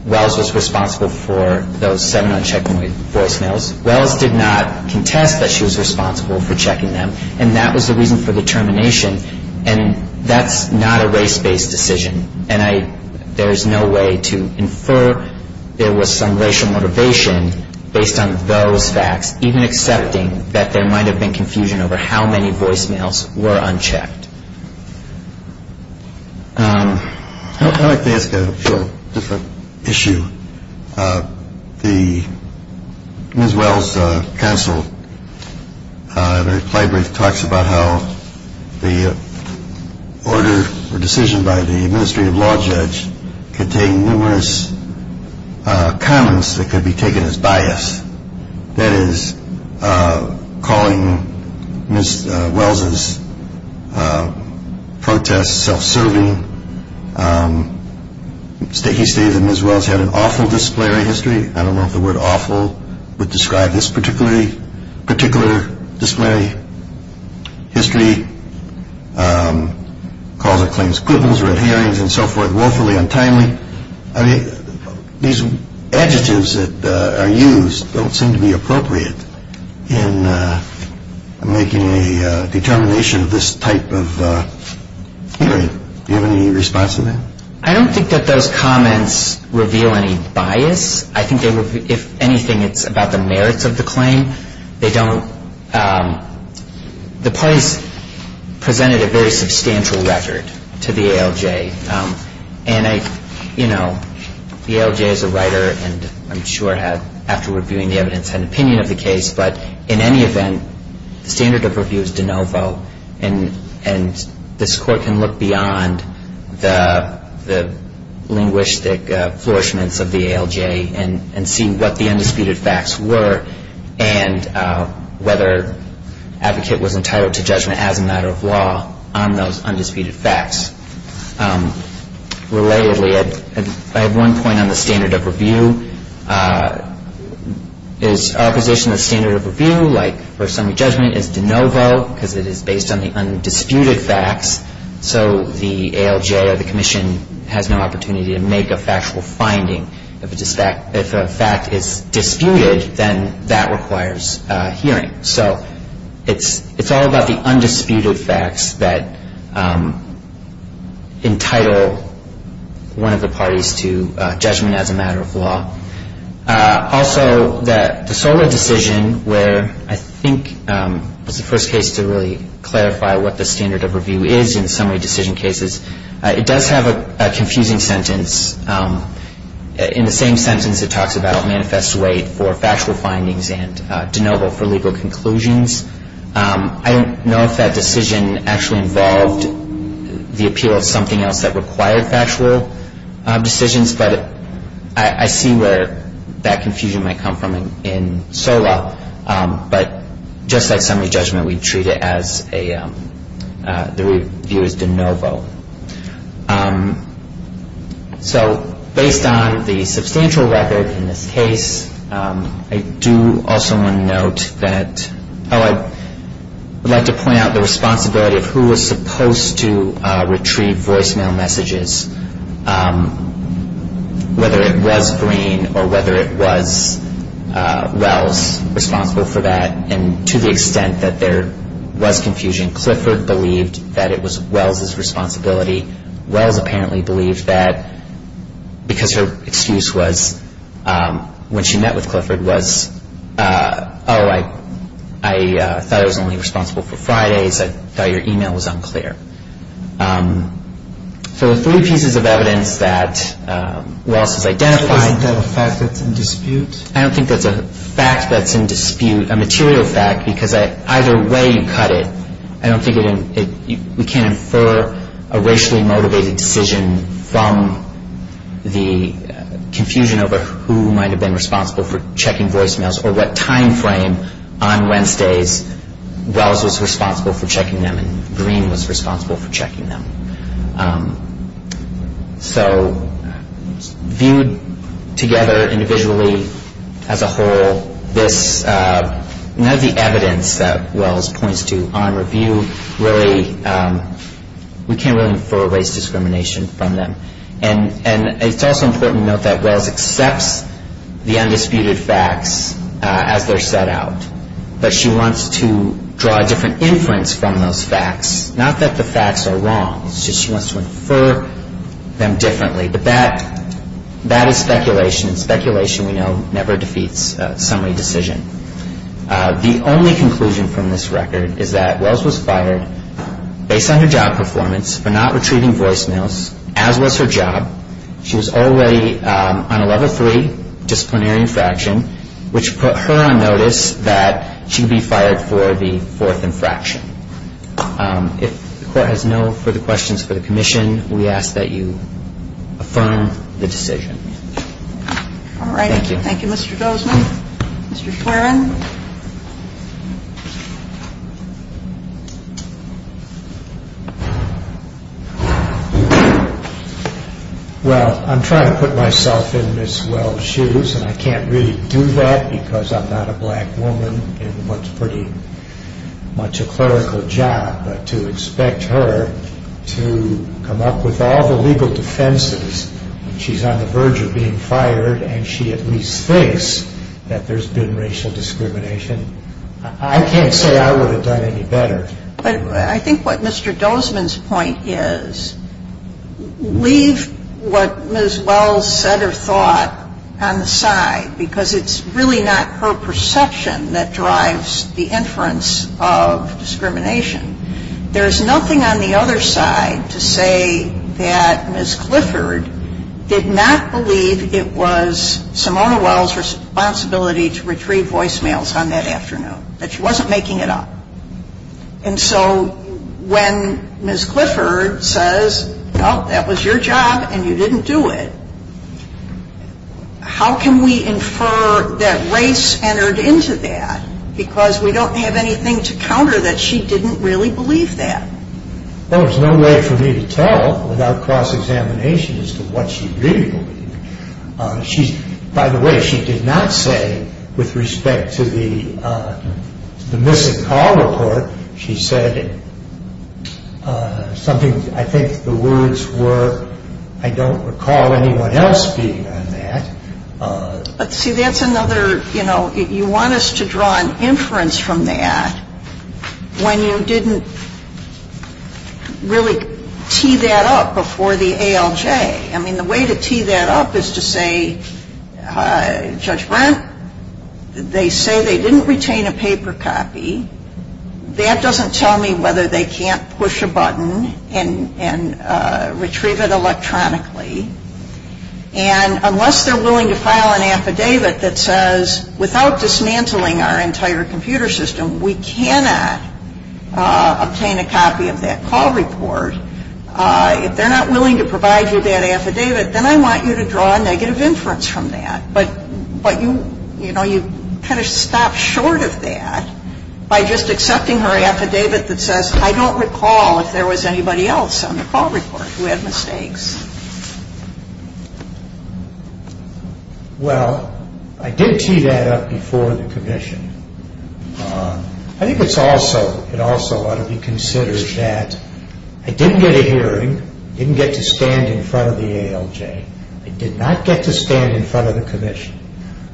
Wells was responsible for those seven unchecked voicemails. Wells did not contest that she was responsible for checking them, and that was the reason for the termination. And that's not a race-based decision. And there's no way to infer there was some racial motivation based on those facts, even accepting that there might have been confusion over how many voicemails were unchecked. I'd like to ask a different issue. Ms. Wells' counsel in her flag break talks about how the order or decision by the administrative law judge contained numerous comments that could be taken as bias. That is, calling Ms. Wells' protest self-serving. He stated that Ms. Wells had an awful disciplinary history. I don't know if the word awful would describe this particular disciplinary history. Calls her claims quibbles or adherence and so forth, woefully untimely. These adjectives that are used don't seem to be appropriate in making a determination of this type of hearing. Do you have any response to that? I don't think that those comments reveal any bias. I think they reveal, if anything, it's about the merits of the claim. The parties presented a very substantial record to the ALJ. The ALJ is a writer, and I'm sure have, after reviewing the evidence and opinion of the case, but in any event, the standard of review is de novo, and this Court can look beyond the linguistic flourishments of the ALJ and see what the undisputed facts were and whether the advocate was entitled to judgment as a matter of law on those undisputed facts. Relatedly, I have one point on the standard of review. Our position of standard of review, like for some judgment, is de novo, because it is based on the undisputed facts, so the ALJ or the Commission has no opportunity to make a factual finding. If a fact is disputed, then that requires hearing. So it's all about the undisputed facts that entitle one of the parties to judgment as a matter of law. Also, the Solow decision, where I think it was the first case to really clarify what the standard of review is in summary decision cases, it does have a confusing sentence. In the same sentence, it talks about a manifest way for factual findings and de novo for legal conclusions. I don't know if that decision actually involved the appeal of something else that required factual decisions, but I see where that confusion might come from in Solow. But just like summary judgment, we treat it as the review is de novo. So based on the substantial records in this case, I do also want to note that, I would like to point out the responsibility of who was supposed to retrieve voicemail messages, whether it was Green or whether it was Wells responsible for that. And to the extent that there was confusion, Clifford believed that it was Wells' responsibility. Wells apparently believed that because her excuse was when she met with Clifford was, oh, I thought I was only responsible for Fridays, I thought your email was unclear. So the three pieces of evidence that Wells has identified. Is that a fact that's in dispute? I don't think that's a fact that's in dispute, a material fact, because either way you cut it, I don't think we can infer a racially motivated decision from the confusion over who might have been responsible for checking voicemails or what time frame on Wednesdays who was responsible for checking them and Green was responsible for checking them. So viewed together individually as a whole, none of the evidence that Wells points to on review really, we can't really infer race discrimination from them. And it's also important to note that Wells accepts the undisputed facts as they're set out, but she wants to draw a different inference from those facts, not that the facts are wrong, it's just she wants to infer them differently, but that is speculation and speculation, we know, never defeats a summary decision. The only conclusion from this record is that Wells was fired based on her job performance for not retrieving voicemails, as was her job. She was already on a level three disciplinary infraction, which put her on notice that she would be fired for the fourth infraction. If the court has no further questions for the commission, we ask that you affirm the decision. All right, thank you. Thank you, Mr. Grosman. Mr. Schwerin. Well, I'm trying to put myself in Ms. Wells' shoes, and I can't really do that because I'm not a black woman in what's pretty much a clerical job, but to expect her to come up with all the legal defenses when she's on the verge of being fired and she at least thinks that there's been racial discrimination, I can't say I would have done any better. But I think what Mr. Dozman's point is, leave what Ms. Wells said or thought on the side, because it's really not her perception that drives the inference of discrimination. There's nothing on the other side to say that Ms. Clifford did not believe it was Simona Wells' responsibility to retrieve voicemails on that afternoon, that she wasn't making it up. And so when Ms. Clifford says, well, that was your job and you didn't do it, how can we infer that race entered into that? Because we don't have anything to counter that she didn't really believe that. Well, there's no way for me to tell without cross-examination as to what she agreed with. By the way, she did not say with respect to the missing call report, she said something, I think the words were, I don't recall anyone else being on that. See, that's another, you know, you want us to draw an inference from that when you didn't really tee that up before the ALJ. I mean, the way to tee that up is to say, Judge Brent, they say they didn't retain a paper copy. That doesn't tell me whether they can't push a button and retrieve it electronically. And unless they're willing to file an affidavit that says, without dismantling our entire computer system, we cannot obtain a copy of that call report. If they're not willing to provide you that affidavit, then I want you to draw a negative inference from that. But, you know, you kind of stop short of that by just accepting her affidavit that says, I don't recall if there was anybody else on the call report who had mistakes. Well, I did tee that up before the commission. I think it also ought to be considered that I didn't get a hearing, I didn't get to stand in front of the ALJ. I did not get to stand in front of the commission.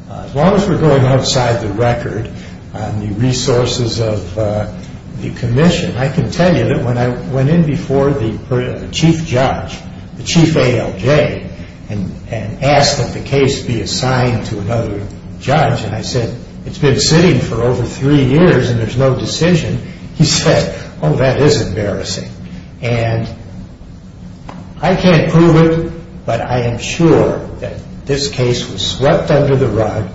As long as we're going outside the record on the resources of the commission, I can tell you that when I went in before the chief judge, the chief ALJ, and asked that the case be assigned to another judge, and I said, it's been sitting for over three years and there's no decision, he said, oh, that is embarrassing. And I can't prove it, but I am sure that this case was swept under the rug.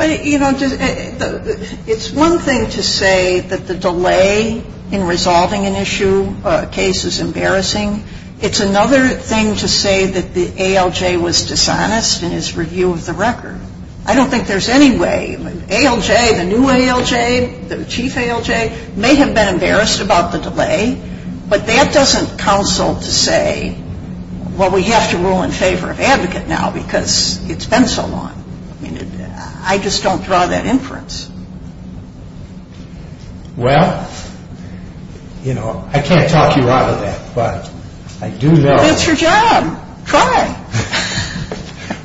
You know, it's one thing to say that the delay in resolving an issue case is embarrassing. It's another thing to say that the ALJ was dishonest in its review of the record. I don't think there's any way. The ALJ, the new ALJ, the chief ALJ, may have been embarrassed about the delay, but that doesn't counsel to say, well, we have to rule in favor of advocate now because it's been so long. I just don't draw that inference. Well, you know, I can't talk you out of that, but I do know. It's your job. Try.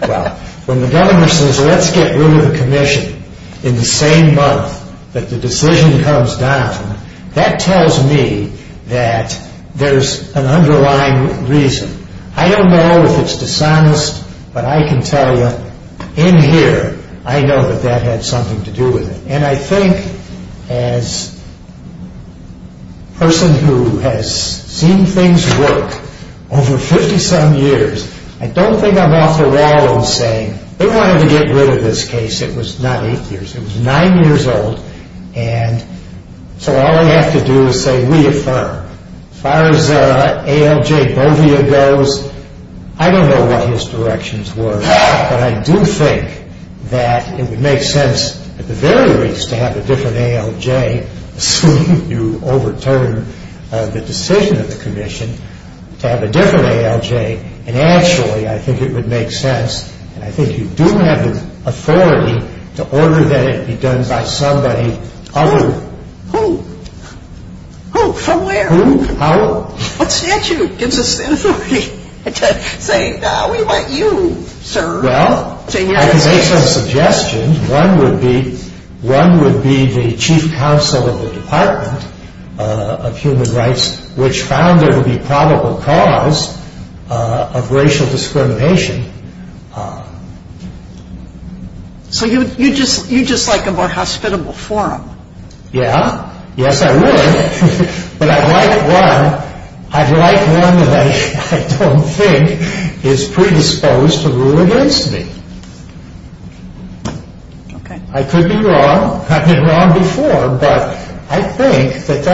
Well, when the government says let's get rid of the commission in the same month that the decision comes down, that tells me that there's an underlying reason. I don't know if it's dishonest, but I can tell you in here, I know that that had something to do with it. And I think as a person who has seen things work over 50-some years, I don't think I'm off the wall in saying they wanted to get rid of this case. It was not eight years. It was nine years old. And so all we have to do is say reaffirm. As far as ALJ Bodia goes, I don't know what his directions were, but I do think that it would make sense at the very least to have a different ALJ assuming you overturn the decision of the commission, to have a different ALJ. And actually, I think it would make sense. And I think you do have an authority to order that it be done by somebody other. Who? Who? Who? Somewhere? Who? How? What's the action that gives us the authority to say, no, we want you, sir. Well, I can make some suggestions. One would be the chief counsel of the Department of Human Rights, which found there to be probable cause of racial discrimination. So you just like a more hospitable forum. Yeah. Yes, I do. But I'd like one. I'd like one that I don't think is predisposed to rule against me. I could be wrong. I've been wrong before. But I think that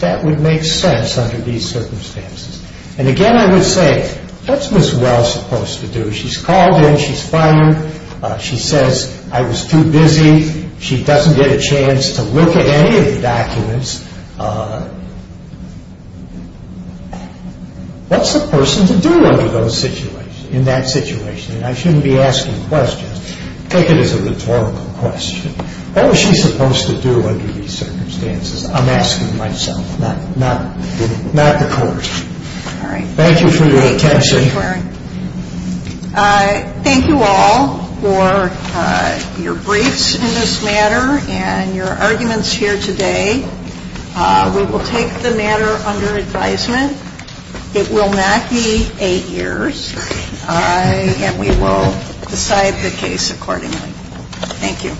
that would make sense under these circumstances. And again, I would say, what's Ms. Wells supposed to do? She's called in. She's fine. She says, I was too busy. She doesn't get a chance to look at any of the documents. What's a person to do in that situation? And I shouldn't be asking questions. Take it as a rhetorical question. What was she supposed to do under these circumstances? I'm asking myself, not the courts. All right. Thank you for your attention. Thank you all for your briefs in this matter and your arguments here today. We will take the matter under advisement. It will not be eight years. And we will decide the case accordingly. Thank you.